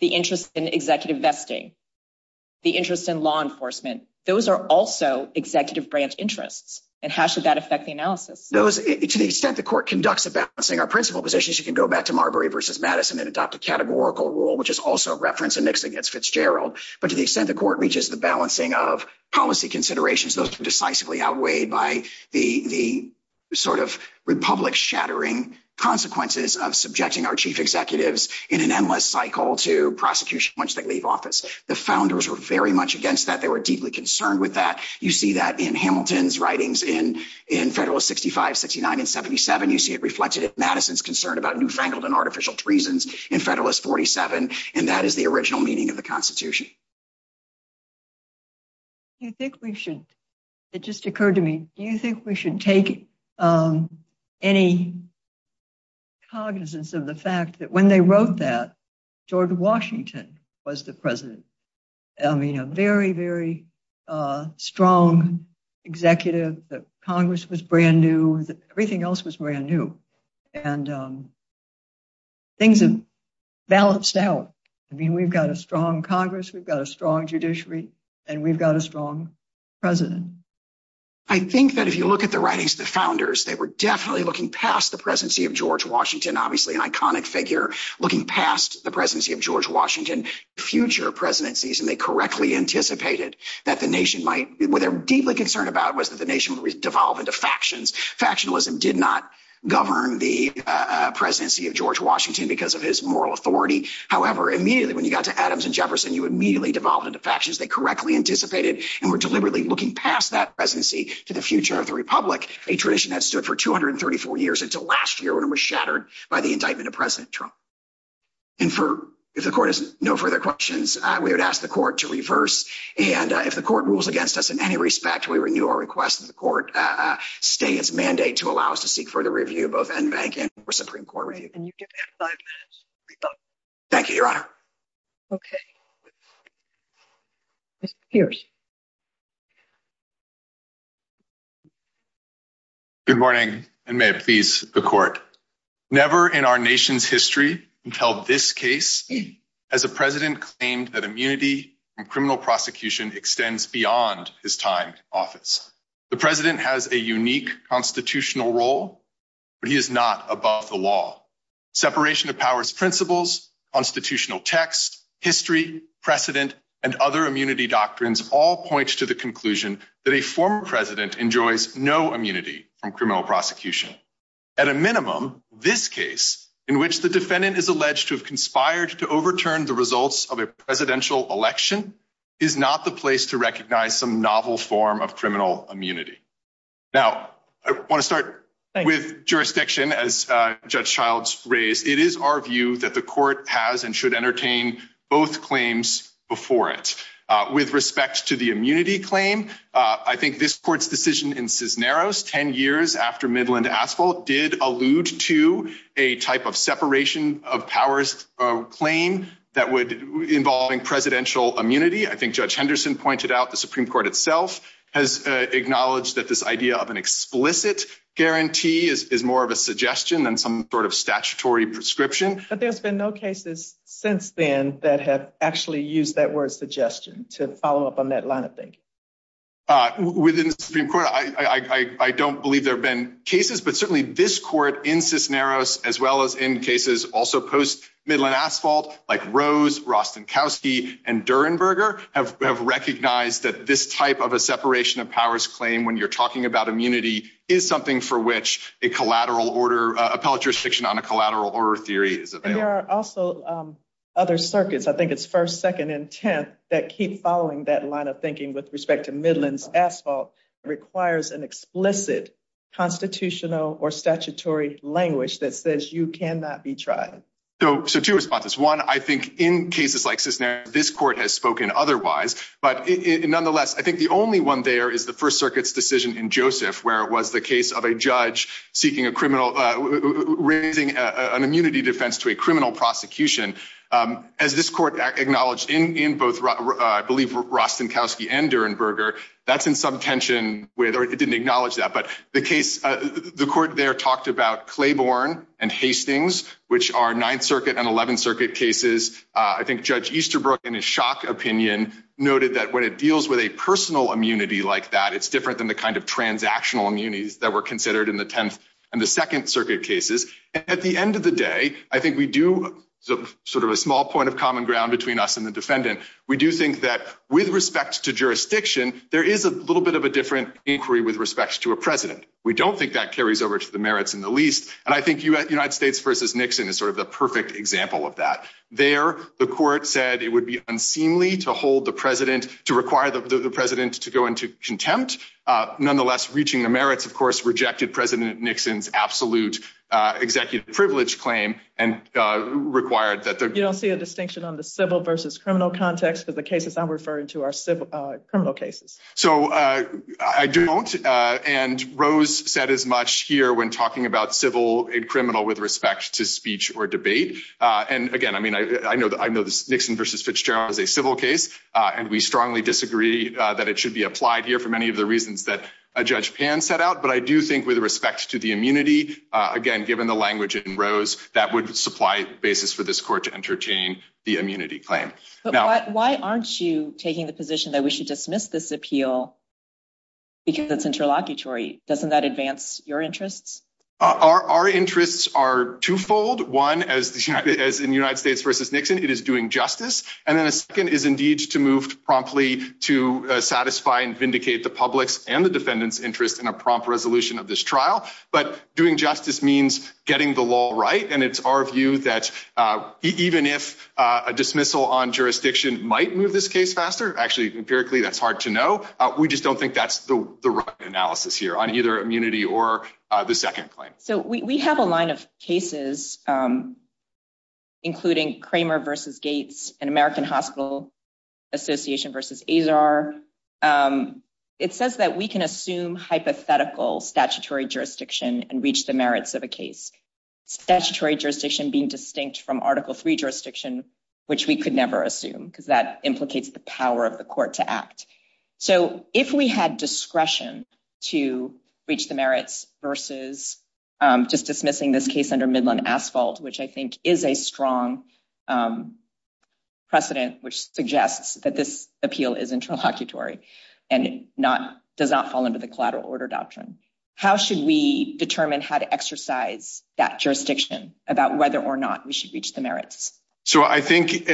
the interest in executive vesting. The interest in law enforcement. Those are also executive branch interests. And how should that affect the analysis? Those, to the extent the court conducts a balancing our principal positions, you can go back to Marbury versus Madison and adopt a categorical rule, which is also referenced in Nixon against Fitzgerald. But to the extent the court reaches the balancing of policy considerations, those decisively outweighed by the sort of republic shattering consequences of subjecting our chief executives in an endless cycle to prosecution once they leave office. The founders were very much against that. They were deeply concerned with that. You see that in Hamilton's writings in Federalist 65, 69, and 77. You see it reflected in Madison's concern about newfangled and artificial treasons in Federalist 47. And that is the original meaning of the Constitution. Do you think we should, it just occurred to me, do you think we should take any cognizance of the fact that when they wrote that, George Washington was the president? I mean, a very, very strong executive. The Congress was brand new. Everything else was brand new. And things have balanced out. I mean, we've got a strong Congress. We've got a strong judiciary. And we've got a strong president. I think that if you look at the writings of the founders, they were definitely looking past the presidency of George Washington, obviously an iconic figure, looking past the presidency of George Washington, future presidencies. And they correctly anticipated that the nation might, what they're deeply concerned about was that the nation would devolve into factions. Factionalism did not govern the presidency of George Washington because of his moral authority. However, immediately when you got to Adams and Jefferson, you immediately devolved into factions. They correctly anticipated and were deliberately looking past that presidency to the future of the Republic. A tradition that stood for 234 years until last year when it was shattered by the indictment of President Trump. And for, if the court has no further questions, we would ask the court to reverse. And if the court rules against us in any respect, we renew our request that the court stay its mandate to allow us to seek further review, both NVAC and Supreme Court review. Can you give me five minutes to rebut? Thank you, Your Honor. Okay. Good morning. And may it please the court. Never in our nation's history until this case as a president claimed that immunity from criminal prosecution extends beyond his time in office. The president has a unique constitutional role, but he is not above the law. Separation of powers principles, constitutional text, history, precedent, and other immunity doctrines all points to the conclusion that a former president enjoys no immunity from criminal prosecution. At a minimum, this case in which the defendant is alleged to have conspired to overturn the results of a presidential election is not the place to recognize some novel form of criminal immunity. Now, I want to start with jurisdiction as Judge Childs raised. It is our view that the court has and should entertain both claims before it. With respect to the immunity claim, I think this court's decision in Cisneros 10 years after Midland Asphalt did allude to a type of separation of powers claim that would involve in presidential immunity. I think Judge Henderson pointed out the Supreme Court itself has acknowledged that this idea of an explicit guarantee is more of a suggestion than some sort of statutory prescription. But there's been no cases since then that have actually used that word suggestion to follow up on that line of thinking. Within the Supreme Court, I don't believe there have been cases, but certainly this court in Cisneros as well as in cases also post Midland Asphalt like Rose, Rostenkowski, and Durenberger have recognized that this type of a separation of powers claim when you're talking about immunity is something for which a collateral order, appellate jurisdiction on a collateral order theory is available. There are also other circuits, I think it's First, Second, and Tenth that keep following that line of thinking with respect to Midland Asphalt requires an explicit constitutional or statutory language that says you cannot be tried. So two responses. One, I think in cases like Cisneros, this court has spoken otherwise. But nonetheless, I think the only one there is the First Circuit's decision in Joseph where it was the case of a judge seeking a criminal, raising an immunity defense to a criminal prosecution. As this court acknowledged in both, I believe, Rostenkowski and Durenberger, that's in some tension where they didn't acknowledge that. The case, the court there talked about Claiborne and Hastings, which are Ninth Circuit and Eleventh Circuit cases. I think Judge Easterbrook, in his shock opinion, noted that when it deals with a personal immunity like that, it's different than the kind of transactional immunities that were considered in the Tenth and the Second Circuit cases. At the end of the day, I think we do, sort of a small point of common ground between us and the defendant, we do think that with respect to jurisdiction, there is a little bit of a different inquiry with respect to a president. We don't think that carries over to the merits in the least. And I think United States versus Nixon is sort of the perfect example of that. There, the court said it would be unseemly to hold the president, to require the president to go into contempt. Nonetheless, reaching the merits, of course, rejected President Nixon's absolute executive privilege claim and required that there... You don't see a distinction on the civil versus criminal context of the cases I'm referring to are criminal cases. So I don't, and Rose said as much here when talking about civil and criminal with respect to speech or debate. And again, I mean, I know this Nixon versus Fitzgerald is a civil case, and we strongly disagree that it should be applied here for many of the reasons that Judge Pan set out. But I do think with respect to the immunity, again, given the language in Rose, that would supply basis for this court to entertain the immunity claim. But why aren't you taking the position that we should dismiss this appeal because it's interlocutory? Doesn't that advance your interests? Our interests are twofold. One, as in United States versus Nixon, it is doing justice. And then the second is indeed to move promptly to satisfy and vindicate the public's and the defendant's interest in a prompt resolution of this trial. But doing justice means getting the law right. And it's our view that even if a dismissal on jurisdiction might move this case faster, actually, empirically, that's hard to know. We just don't think that's the right analysis here on either immunity or the second claim. So we have a line of cases, including Cramer versus Gates and American Hospital Association versus Azar. It says that we can assume hypothetical statutory jurisdiction and reach the merits of a case. Statutory jurisdiction being distinct from Article III jurisdiction, which we could never assume because that implicates the power of the court to act. So if we had discretion to reach the merits versus just dismissing this case under Midland Asphalt, which I think is a strong precedent, which suggests that this appeal is interlocutory and does not fall under the collateral order doctrine. How should we determine how to exercise that jurisdiction about whether or not we should reach the merits? So I think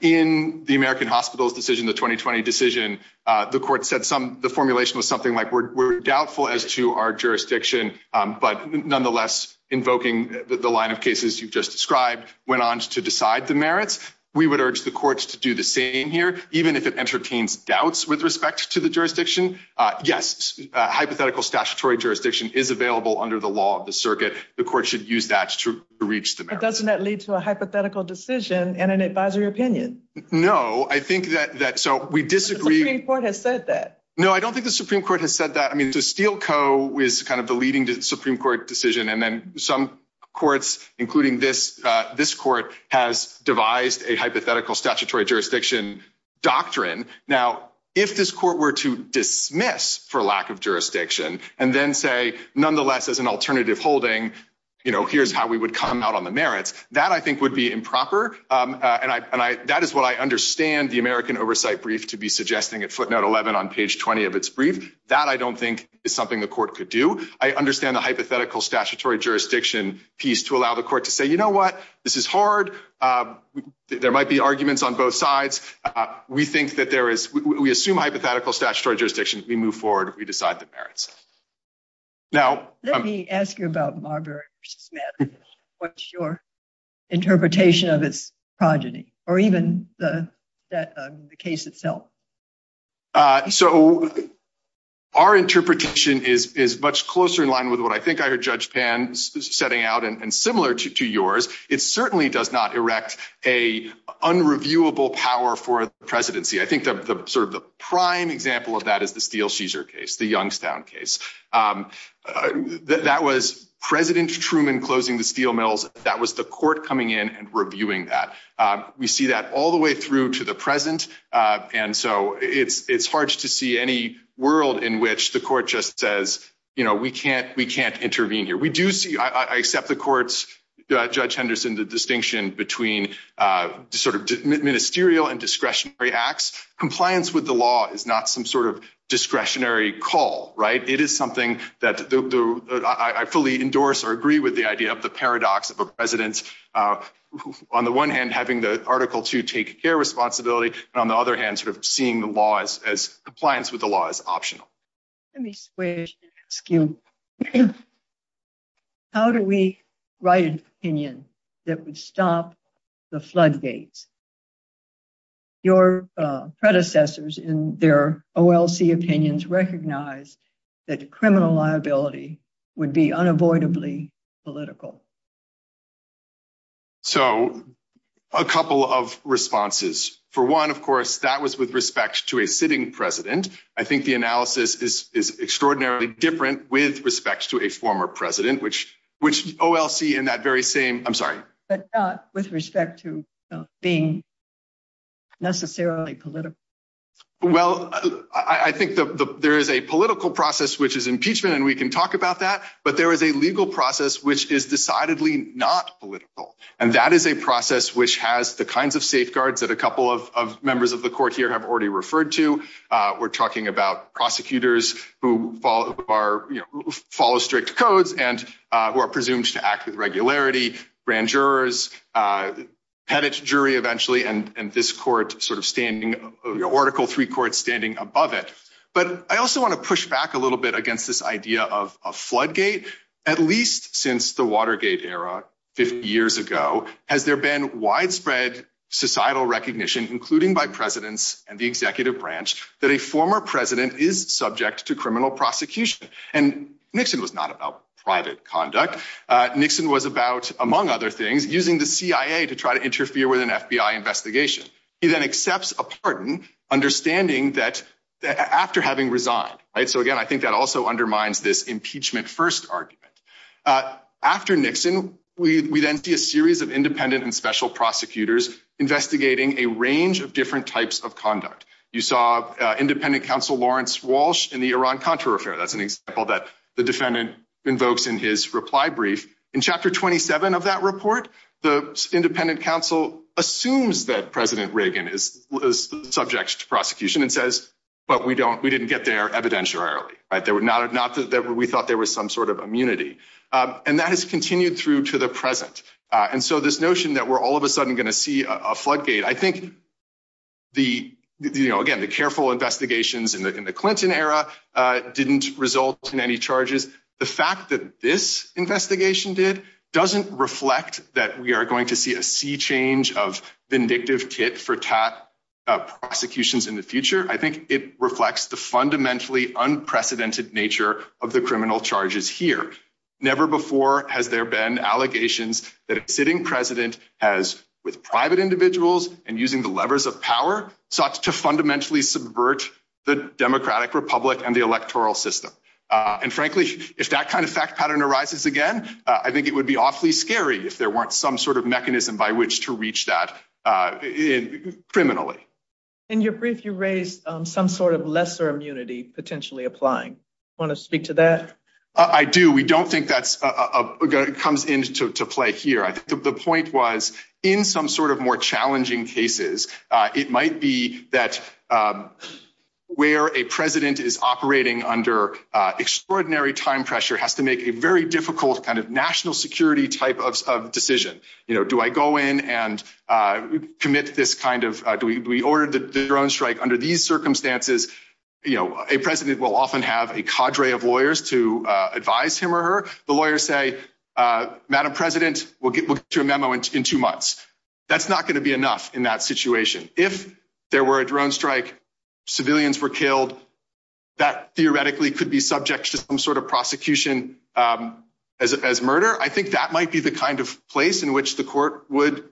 in the American Hospital's decision, the 2020 decision, the court said the formulation was something like, we're doubtful as to our jurisdiction. But nonetheless, invoking the line of cases you've just described went on to decide the merits. We would urge the courts to do the same here, even if it entertains doubts with respect to the jurisdiction. Yes, hypothetical statutory jurisdiction is available under the law of the circuit. The court should use that to reach the merits. But doesn't that lead to a hypothetical decision and an advisory opinion? No, I think that... So we disagree... The Supreme Court has said that. No, I don't think the Supreme Court has said that. I mean, the Steele Co. is kind of the leading Supreme Court decision. And then some courts, including this court, has devised a hypothetical statutory jurisdiction doctrine. Now, if this court were to dismiss for lack of jurisdiction and then say, nonetheless, as an alternative holding, here's how we would come out on the merits, that I think would be improper. And that is what I understand the American Oversight brief to be suggesting at footnote 11 on page 20 of its brief. That I don't think is something the court could do. I understand the hypothetical statutory jurisdiction piece to allow the court to say, you know what, this is hard. There might be arguments on both sides. We think that there is... We assume hypothetical statutory jurisdictions. We move forward. We decide the merits. Now- Let me ask you about Marbury v. Smith. What's your interpretation of its progeny? Or even the case itself? So our interpretation is much closer in line with what I think I heard Judge Pan setting out and similar to yours. It certainly does not erect a unreviewable power for the presidency. I think the sort of the prime example of that is the Steele-Scheeser case, the Youngstown case. That was President Truman closing the steel mills. That was the court coming in and reviewing that. We see that all the way through to the present. And so it's harsh to see any world in which the court just says, you know, we can't intervene here. I accept the court's, Judge Henderson, the distinction between sort of ministerial and discretionary acts. Compliance with the law is not some sort of discretionary call, right? It is something that I fully endorse or agree with the idea of the paradox of a president on the one hand, having the article to take care responsibility. On the other hand, sort of seeing the laws as compliance with the law is optional. Let me switch. How do we write an opinion that would stop the floodgates? Your predecessors in their OLC opinions recognize that criminal liability would be unavoidably political. So a couple of responses. For one, of course, that was with respect to a sitting president. I think the analysis is extraordinarily different with respect to a former president, which which OLC in that very same. I'm sorry, but with respect to being necessarily political. Well, I think there is a political process, which is impeachment. And we can talk about that. But there is a legal process which is decidedly not political. And that is a process which has the kinds of safeguards that a couple of members of the court here have already referred to. We're talking about prosecutors who follow strict codes and who are presumed to act with regularity. Grand jurors had its jury eventually. And this court sort of standing article three court standing above it. But I also want to push back a little bit against this idea of a floodgate, at least since the Watergate era 50 years ago. Has there been widespread societal recognition, including by presidents and the executive branch, that a former president is subject to criminal prosecution? And Nixon was not about private conduct. Nixon was about, among other things, using the CIA to try to interfere with an FBI investigation. He then accepts a pardon, understanding that after having resigned. So, again, I think that also undermines this impeachment first argument. After Nixon, we then see a series of independent and special prosecutors investigating a range of different types of conduct. You saw independent counsel Lawrence Walsh in the Iran-Contra affair. That's an example that the defendant invokes in his reply brief. In chapter 27 of that report, the independent counsel assumes that President Reagan is subject to prosecution and says, but we don't, we didn't get there evidentiarily. They were not, we thought there was some sort of immunity. And that has continued through to the present. And so this notion that we're all of a sudden going to see a floodgate, I think the, you know, again, the careful investigations in the Clinton era didn't result in any charges. The fact that this investigation did doesn't reflect that we are going to see a sea change of vindictive kit for prosecutions in the future. I think it reflects the fundamentally unprecedented nature of the criminal charges here. Never before has there been allegations that a sitting president has with private individuals and using the levers of power such to fundamentally subvert the democratic republic and the electoral system. And frankly, if that kind of fact pattern arises again, I think it would be awfully scary if there weren't some sort of mechanism by which to reach that criminally. In your brief, you raised some sort of lesser immunity potentially applying. Want to speak to that? I do. We don't think that comes into play here. The point was in some sort of more challenging cases, it might be that where a president is operating under extraordinary time pressure has to make a very difficult kind of national security type of decision. You know, do I go in and commit this kind of we ordered the drone strike under these circumstances? You know, a president will often have a cadre of lawyers to advise him or her. Lawyers say, Madam President, we'll get to a memo in two months. That's not going to be enough in that situation. If there were a drone strike, civilians were killed. That theoretically could be subject to some sort of prosecution as murder. I think that might be the kind of place in which the court would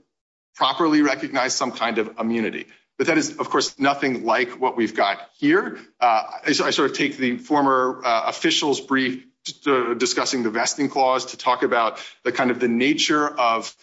properly recognize some kind of immunity. But that is, of course, nothing like what we've got here. I sort of take the former official's brief discussing the vesting clause to talk about the kind of the nature of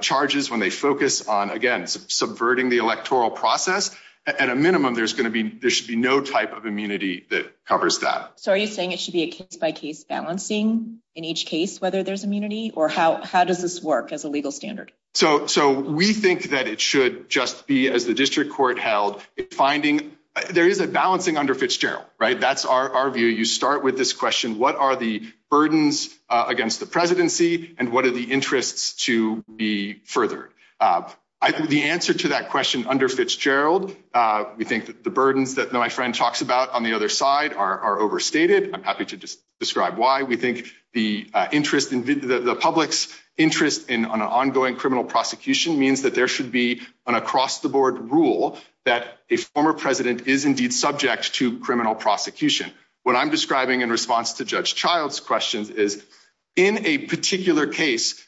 charges when they focus on, again, subverting the electoral process. At a minimum, there's going to be there should be no type of immunity that covers that. So are you saying it should be a case-by-case balancing in each case, whether there's immunity? Or how does this work as a legal standard? So we think that it should just be, as the district court held, finding there is a balancing under Fitzgerald, right? That's our view. You start with this question, what are the burdens against the presidency? And what are the interests to be furthered? The answer to that question under Fitzgerald, we think that the burdens that my friend talks about on the other side are overstated. I'm happy to describe why. We think the public's interest in an ongoing criminal prosecution means that there should be an across-the-board rule that a former president is indeed subject to criminal prosecution. What I'm describing in response to Judge Child's question is, in a particular case,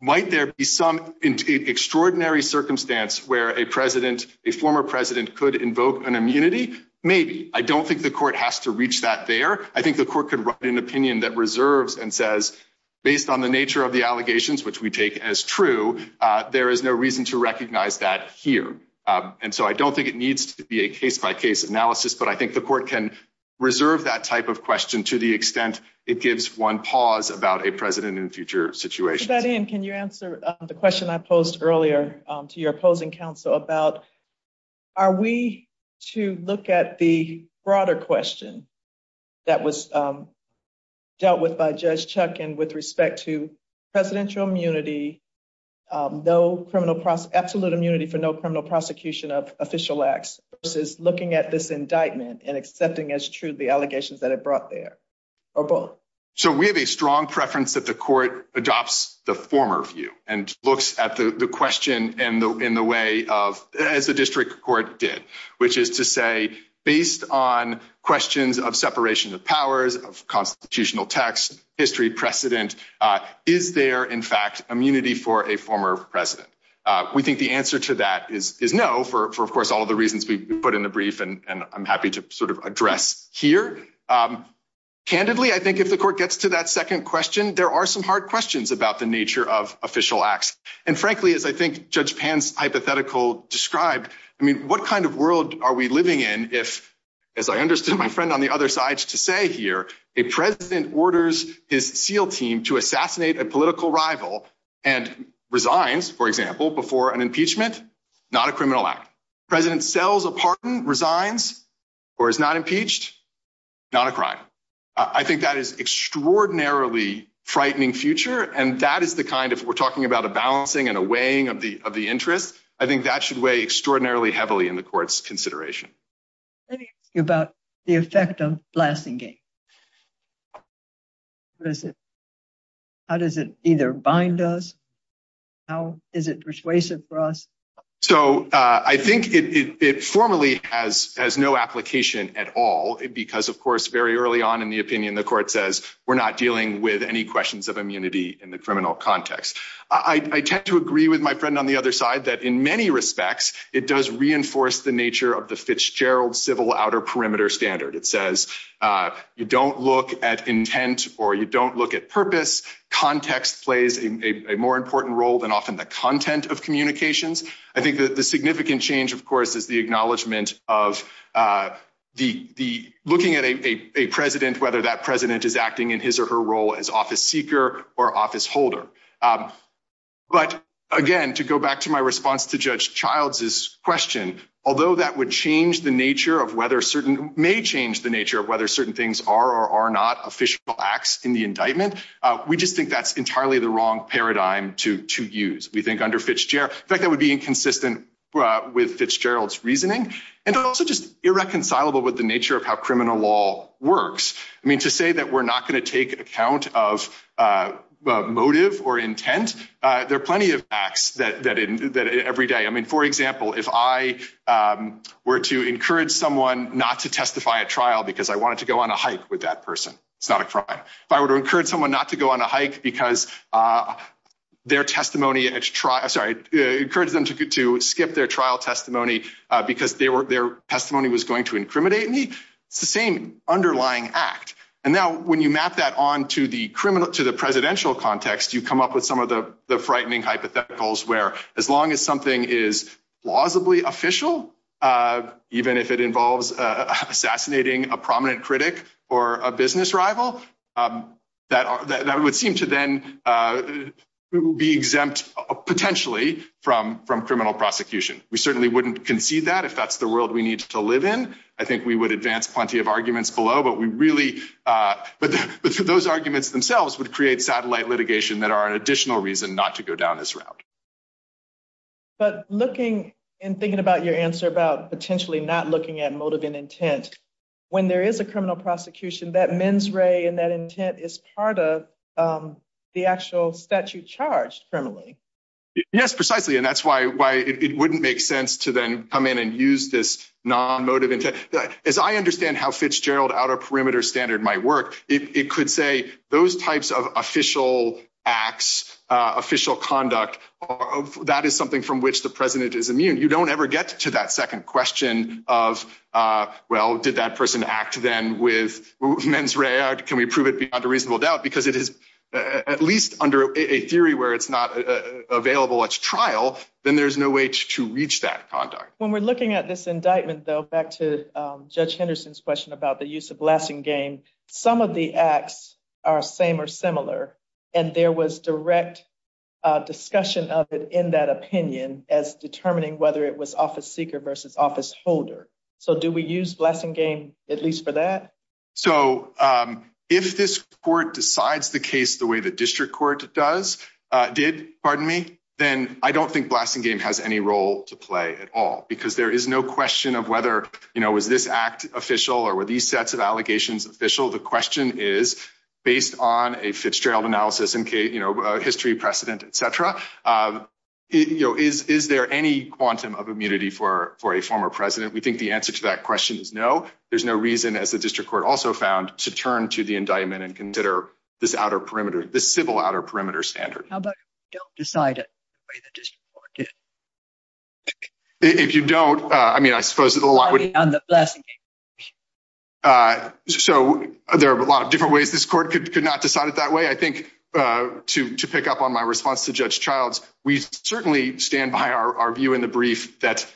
might there be some extraordinary circumstance where a president, a former president could invoke an immunity? Maybe. I don't think the court has to reach that there. I think the court can write an opinion that reserves and says, based on the nature of the allegations, which we take as true, there is no reason to recognize that here. And so I don't think it needs to be a case-by-case analysis. But I think the court can reserve that type of question to the extent it gives one pause about a president in a future situation. To that end, can you answer the question I posed earlier to your opposing counsel about, are we to look at the broader question that was dealt with by Judge Chuck and with respect to presidential immunity, absolute immunity for no criminal prosecution of official acts, versus looking at this indictment and accepting as true the allegations that it brought there, or both? So we have a strong preference that the court adopts the former view and looks at the question as the district court did, which is to say, based on questions of separation of powers, constitutional text, history precedent, is there, in fact, immunity for a former president? We think the answer to that is no, for, of course, all the reasons we put in the brief, and I'm happy to sort of address here. Candidly, I think if the court gets to that second question, there are some hard questions about the nature of official acts. And frankly, as I think Judge Pan's hypothetical described, I mean, what kind of world are we a president orders his SEAL team to assassinate a political rival and resigns, for example, before an impeachment? Not a criminal act. President sells a pardon, resigns, or is not impeached? Not a crime. I think that is extraordinarily frightening future, and that is the kind, if we're talking about a balancing and a weighing of the interest, I think that should weigh extraordinarily heavily in the court's consideration. Let me ask you about the effect of blasting game. How does it either bind us? How is it persuasive for us? So I think it formally has no application at all, because, of course, very early on in the opinion, the court says we're not dealing with any questions of immunity in the criminal context. I tend to agree with my friend on the other side that in many respects, it does reinforce the nature of the Fitzgerald civil outer perimeter standard. It says you don't look at intent or you don't look at purpose. Context plays a more important role than often the content of communications. I think the significant change, of course, is the acknowledgement of looking at a president, whether that president is acting in his or her role as office seeker or office holder. But, again, to go back to my response to Judge Child's question, although that would change the nature of whether certain, may change the nature of whether certain things are or are not official acts in the indictment, we just think that's entirely the wrong paradigm to use. We think under Fitzgerald, in fact, that would be inconsistent with Fitzgerald's reasoning and also just irreconcilable with the nature of how criminal law works. To say that we're not going to take account of motive or intent, there are plenty of acts every day. For example, if I were to encourage someone not to testify at trial because I wanted to go on a hike with that person. It's not a trial. If I were to encourage someone not to go on a hike because their testimony, sorry, encourage them to skip their trial testimony because their testimony was going to incriminate me, it's the same underlying act. And now when you map that on to the presidential context, you come up with some of the frightening hypotheticals where as long as something is plausibly official, even if it involves assassinating a prominent critic or a business rival, that would seem to then be exempt potentially from criminal prosecution. We certainly wouldn't concede that if that's the world we need to live in. I think we would advance plenty of arguments below, but those arguments themselves would create satellite litigation that are an additional reason not to go down this route. But looking and thinking about your answer about potentially not looking at motive and intent, when there is a criminal prosecution, that mens re and that intent is part of the actual statute charged criminally. Yes, precisely. And that's why it wouldn't make sense to then come in and use this non-motive intent. As I understand how Fitzgerald Outer Perimeter Standard might work, it could say those types of official acts, official conduct, that is something from which the president is immune. You don't ever get to that second question of, well, did that person act then with mens re? Can we prove it beyond a reasonable doubt? Because it is, at least under a theory where it's not available at trial, then there's no way to reach that conduct. When we're looking at this indictment, though, back to Judge Henderson's question about the use of blasting game, some of the acts are same or similar. And there was direct discussion of it in that opinion as determining whether it was office seeker versus office holder. So do we use blasting game, at least for that? So if this court decides the case the way the district court did, then I don't think blasting game has any role to play at all. Because there is no question of whether was this act official or were these sets of allegations official? The question is, based on a Fitzgerald analysis and history precedent, et cetera, is there any quantum of immunity for a former president? We think the answer to that question is no. There's no reason, as the district court also found, to turn to the indictment and consider this outer perimeter, this civil outer perimeter standard. How about if you don't decide it the way the district court did? If you don't, I mean, I suppose a lot would— Beyond the blasting game. So there are a lot of different ways this court could not decide it that way. I think, to pick up on my response to Judge Childs, we certainly stand by our view in the brief that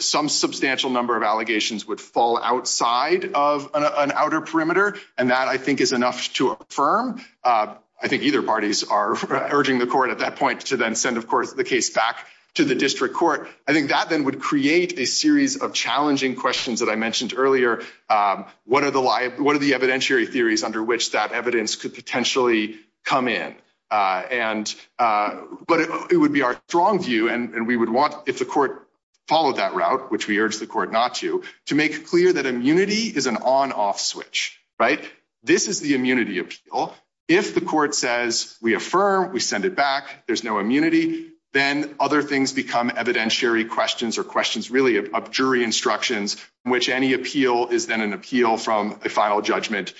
some substantial number of allegations would fall outside of an outer perimeter. And that, I think, is enough to affirm. I think either parties are urging the court at that point to then send, of course, the case back to the district court. I think that then would create a series of challenging questions that I mentioned earlier. What are the evidentiary theories under which that evidence could potentially come in? And—but it would be our strong view, and we would want, if the court followed that route, which we urge the court not to, to make clear that immunity is an on-off switch, right? This is the immunity appeal. If the court says, we affirm, we send it back, there's no immunity, then other things become evidentiary questions or questions, really, of jury instructions in which any appeal is then an appeal from a final judgment,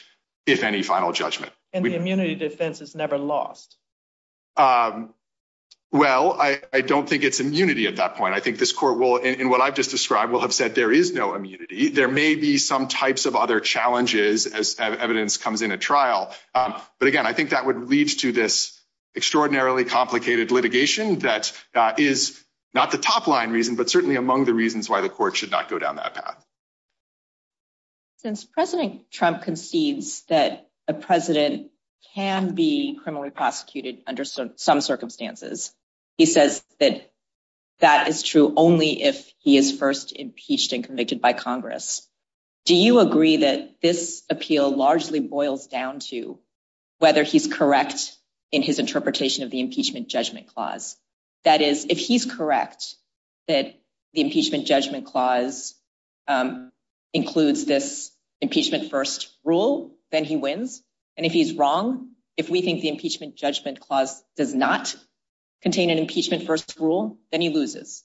if any final judgment. And the immunity defense is never lost. Well, I don't think it's immunity at that point. I think this court will, in what I've just described, will have said there is no immunity. There may be some types of other challenges as evidence comes in at trial. But again, I think that would lead to this extraordinarily complicated litigation that is not the top-line reason, but certainly among the reasons why the court should not go down that path. Since President Trump concedes that a president can be criminally prosecuted under some circumstances, he says that that is true only if he is first impeached and convicted by Congress. Do you agree that this appeal largely boils down to whether he's correct in his interpretation of the impeachment judgment clause? That is, if he's correct that the impeachment judgment clause includes this impeachment first rule, then he wins. And if he's wrong, if we think the impeachment judgment clause does not contain an impeachment first rule, then he loses.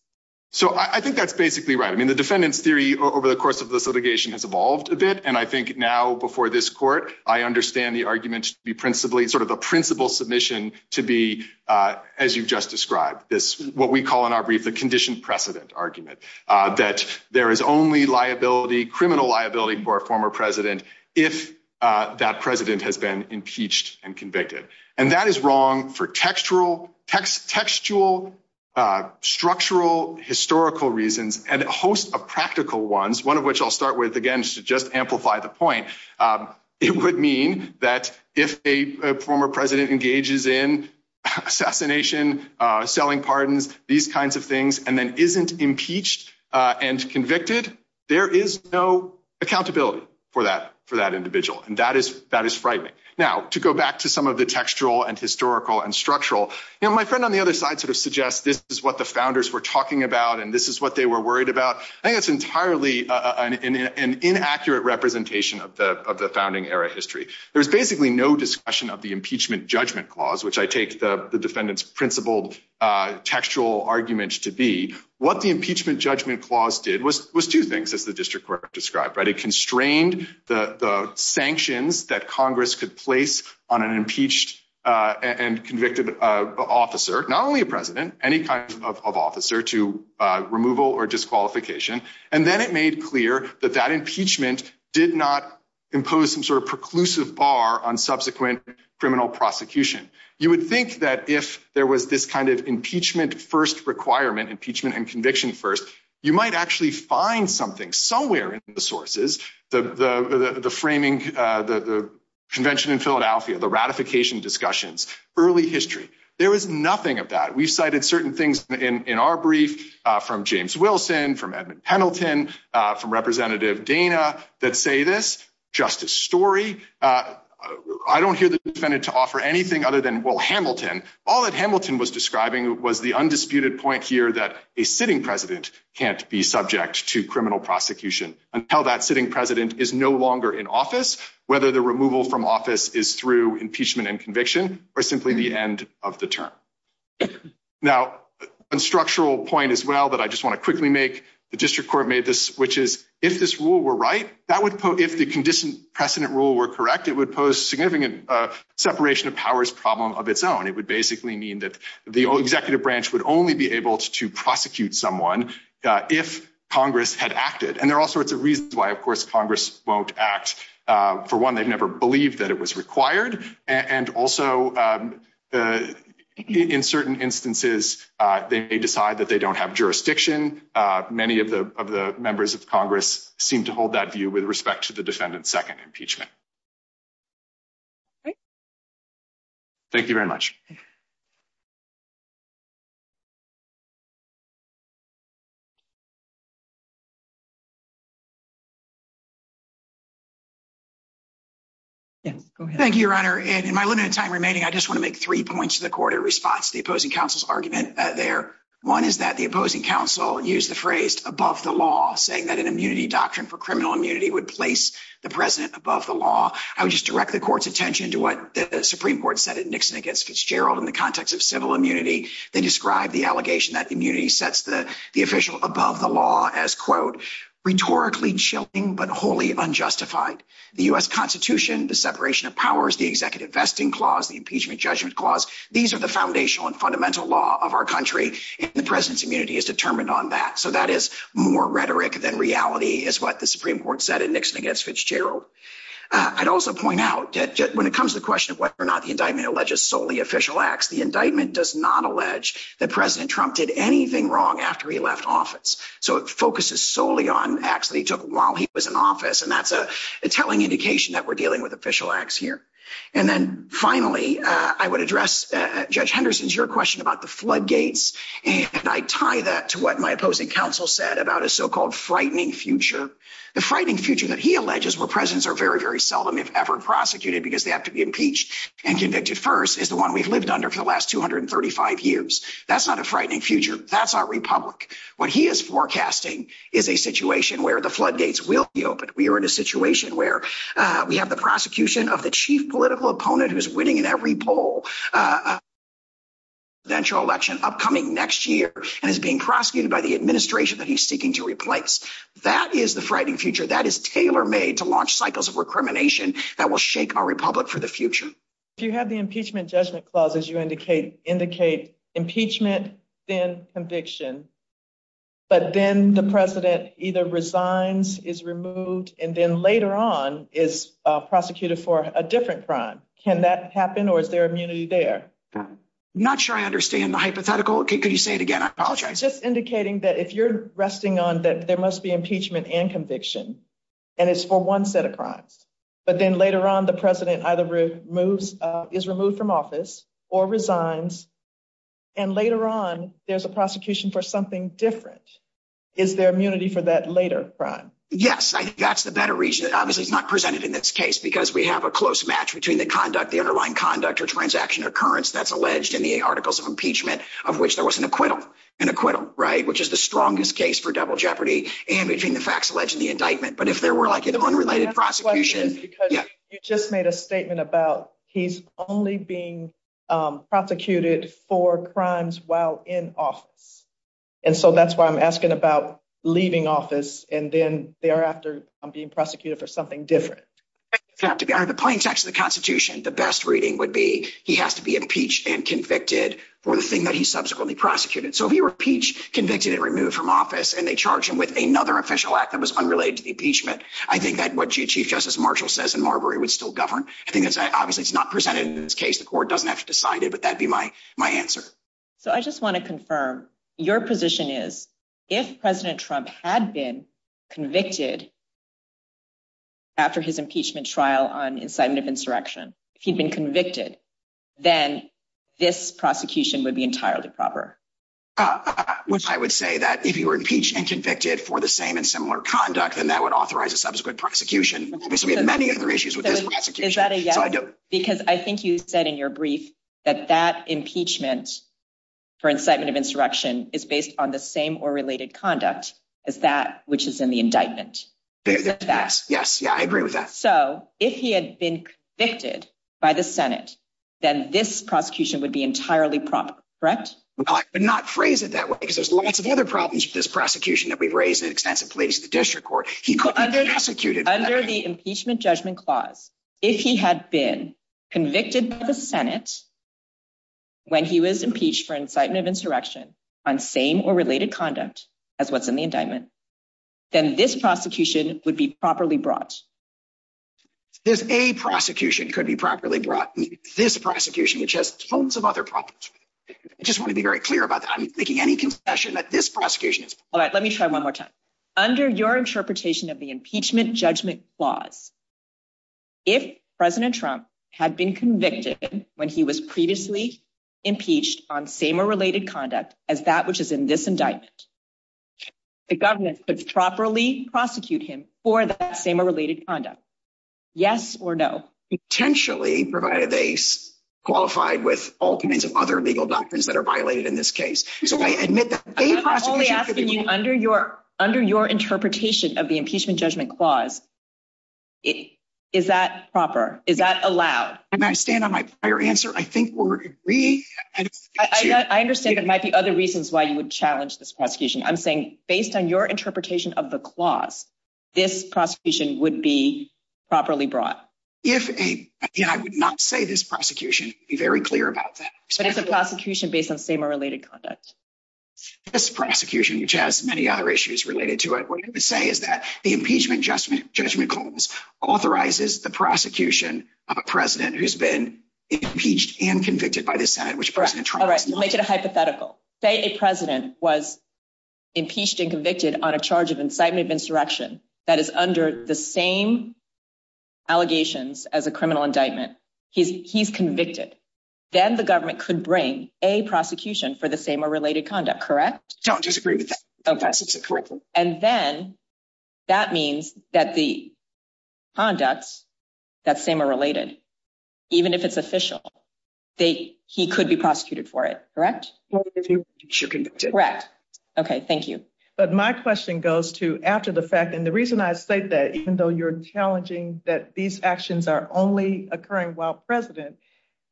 So I think that's basically right. I mean, the defendant's theory over the course of this litigation has evolved a bit. And I think now, before this court, I understand the argument should be principally sort of a principle submission to be, as you just described, what we call in our brief the conditioned precedent argument, that there is only liability, criminal liability, for a former president if that president has been impeached and convicted. And that is wrong for textual, structural, historical reasons, and a host of practical ones, one of which I'll start with, again, just to amplify the point. It would mean that if a former president engages in assassination, selling pardons, these kinds of things, and then isn't impeached and convicted, there is no accountability for that individual. And that is frightening. Now, to go back to some of the textual and historical and structural, my friend on the other side sort of suggests this is what the founders were talking about, and this is what they were worried about. I think it's entirely an inaccurate representation of the founding era history. There's basically no discussion of the impeachment judgment clause, which I take the defendant's principled textual arguments to be. What the impeachment judgment clause did was two things, as the district court described. It constrained the sanctions that Congress could place on an impeached and convicted officer, not only a president, any kind of officer, to removal or disqualification. And then it made clear that that impeachment did not impose some sort of preclusive bar on subsequent criminal prosecution. You would think that if there was this kind of impeachment first requirement, impeachment and conviction first, you might actually find something somewhere in the sources, the framing, the convention in Philadelphia, the ratification discussions, early history. There was nothing of that. We cited certain things in our brief from James Wilson, from Edmund Hamilton, from Representative Dana that say this, just a story. I don't hear the defendant to offer anything other than, well, Hamilton. All that Hamilton was describing was the undisputed point here that a sitting president can't be subject to criminal prosecution until that sitting president is no longer in office, whether the removal from office is through impeachment and conviction or simply the end of the term. Now, a structural point as well that I just want to quickly make, the district court made this, which is if this rule were right, if the precedent rule were correct, it would pose significant separation of powers problem of its own. It would basically mean that the executive branch would only be able to prosecute someone if Congress had acted. And there are all sorts of reasons why, of course, Congress won't act. For one, they've never believed that it was required. And also, in certain instances, they decide that they don't have jurisdiction. Many of the members of Congress seem to hold that view with respect to the defendant's second impeachment. Thank you very much. Yeah, go ahead. Thank you, Your Honor. In my limited time remaining, I just want to make three points to the court in response to the opposing counsel's argument there. One is that the opposing counsel used the phrase above the law, saying that an immunity doctrine for criminal immunity would place the president above the law. I would just direct the court's attention to what the Supreme Court said at Nixon against Fitzgerald in the context of civil immunity. They described the allegation that immunity sets the official above the law as, quote, rhetorically chilling, but wholly unjustified. The U.S. Constitution, the separation of powers, the executive vesting clause, the impeachment judgment clause, these are the foundational and fundamental law of our country, and the president's immunity is determined on that. So that is more rhetoric than reality, is what the Supreme Court said at Nixon against Fitzgerald. I'd also point out that when it comes to the question of whether or not the indictment alleges solely official acts, the indictment does not allege that President Trump did anything wrong after he left office. So it focuses solely on acts that he took while he was in office, and that's a telling indication that we're dealing with official acts here. And then finally, I would address Judge Henderson's question about the floodgates, and I'd tie that to what my opposing counsel said about a so-called frightening future. The frightening future that he alleges where presidents are very, very seldom, if ever, impeached and convicted first is the one we've lived under for the last 235 years. That's not a frightening future. That's our republic. What he is forecasting is a situation where the floodgates will be open. We are in a situation where we have the prosecution of the chief political opponent who is winning in every poll, a presidential election upcoming next year, and is being prosecuted by the administration that he's seeking to replace. That is the frightening future that is tailor-made to launch cycles of recrimination that will shake our republic for the future. If you have the impeachment judgment clause, as you indicate, indicate impeachment, then conviction, but then the president either resigns, is removed, and then later on is prosecuted for a different crime. Can that happen, or is there immunity there? Not sure I understand the hypothetical. Could you say it again? I apologize. Just indicating that if you're resting on that there must be impeachment and conviction, and it's for one set of crimes, but then later on the president either is removed from office or resigns, and later on there's a prosecution for something different. Is there immunity for that later crime? Yes. That's the better reason. This is not presented in this case because we have a close match between the conduct, the underlying conduct, or transaction occurrence that's alleged in the articles of impeachment of which there was an acquittal, an acquittal, right, which is the strongest case for double indictment, but if there were like an unrelated prosecution- I have a question because you just made a statement about he's only being prosecuted for crimes while in office, and so that's why I'm asking about leaving office and then thereafter being prosecuted for something different. It doesn't have to be. Under the plain text of the Constitution, the best reading would be he has to be impeached and convicted for the thing that he subsequently prosecuted. So if he were impeached, convicted, and removed from office, and they charged him with another official act that was unrelated to impeachment, I think that what Chief Justice Marshall says in Marbury would still govern. I think that's obviously not presented in this case. The court doesn't have to decide it, but that'd be my answer. So I just want to confirm, your position is if President Trump had been convicted after his impeachment trial on incitement of insurrection, he'd been convicted, then this prosecution would be entirely proper. Which I would say that if he were impeached and convicted for the same and similar conduct, then that would authorize a subsequent prosecution. Obviously, we have many other issues with this prosecution. Is that a yes? Because I think you said in your brief that that impeachment for incitement of insurrection is based on the same or related conduct as that which is in the indictment. Yes, yeah, I agree with that. So if he had been convicted by the Senate, then this prosecution would be entirely proper, correct? But not phrased it that way, because there's lots of other problems with this prosecution that we've raised in extensive police and district court. Under the impeachment judgment clause, if he had been convicted by the Senate when he was impeached for incitement of insurrection on same or related conduct as what's in the indictment, then this prosecution would be properly brought. This a prosecution could be properly brought. This prosecution, which has tons of other problems. I just want to be very clear about that. I'm making any confession that this prosecution is- All right, let me try one more time. Under your interpretation of the impeachment judgment clause, if President Trump had been convicted when he was previously impeached on same or related conduct as that which is in this indictment, the government could properly prosecute him for that same or related conduct. Yes or no? Potentially provide a base qualified with all kinds of other legal doctrines that are violated in this case. Under your interpretation of the impeachment judgment clause, is that proper? Is that allowed? I stand on my prior answer. I think we're agreeing. I understand there might be other reasons why you would challenge this prosecution. I'm saying based on your interpretation of the clause, this prosecution would be properly brought. If a... I would not say this prosecution would be very clear about that. But it's a prosecution based on same or related conduct. This prosecution, which has many other issues related to it, what I'm going to say is that the impeachment judgment clause authorizes the prosecution of a president who's been impeached and convicted by the Senate, which President Trump- All right, make it a hypothetical. Say a president was impeached and convicted on a charge of incitement of insurrection that is under the same allegations as a criminal indictment. He's convicted. Then the government could bring a prosecution for the same or related conduct, correct? I just agree with that. Okay. And then that means that the conduct, that same or related, even if it's official, he could be prosecuted for it, correct? He should be convicted. Correct. Okay, thank you. But my question goes to, after the fact, and the reason I state that, even though you're challenging that these actions are only occurring while president,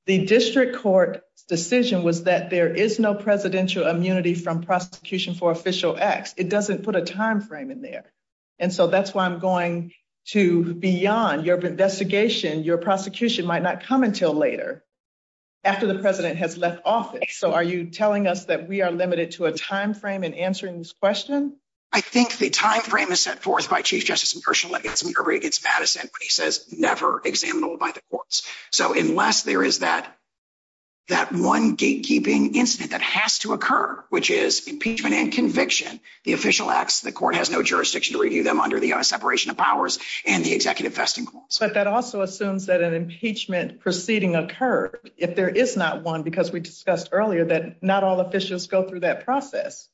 the district court decision was that there is no presidential immunity from prosecution for official acts. It doesn't put a timeframe in there. And so that's why I'm going to, beyond your investigation, your prosecution might not come until later, after the president has left office. So are you telling us that we are limited to a timeframe in answering this question? I think the timeframe is set forth by chief justice and personal evidence. We already get status and he says never examinable by the courts. So unless there is that one gatekeeping incident that has to occur, which is impeachment and conviction, the official acts, the court has no jurisdiction to review them under the separation of powers and the executive vesting courts. But that also assumes that an impeachment proceeding occurred if there is not one, because we discussed earlier that not all officials go through that process.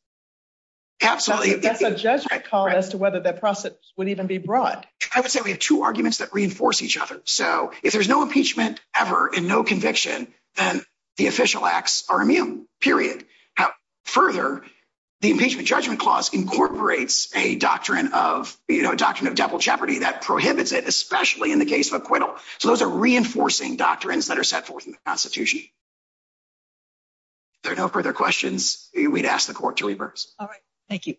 Absolutely. That's a judgment call as to whether that process would even be brought. I would say we have two arguments that reinforce each other. So if there's no impeachment ever and no conviction, then the official acts are immune period. Further, the impeachment judgment clause incorporates a doctrine of, you know, a doctrine of devil jeopardy that prohibits it, especially in the case of acquittal. So those are reinforcing doctrines that are set forth in the constitution. If there are no further questions, we'd ask the court to reverse. All right. Thank you.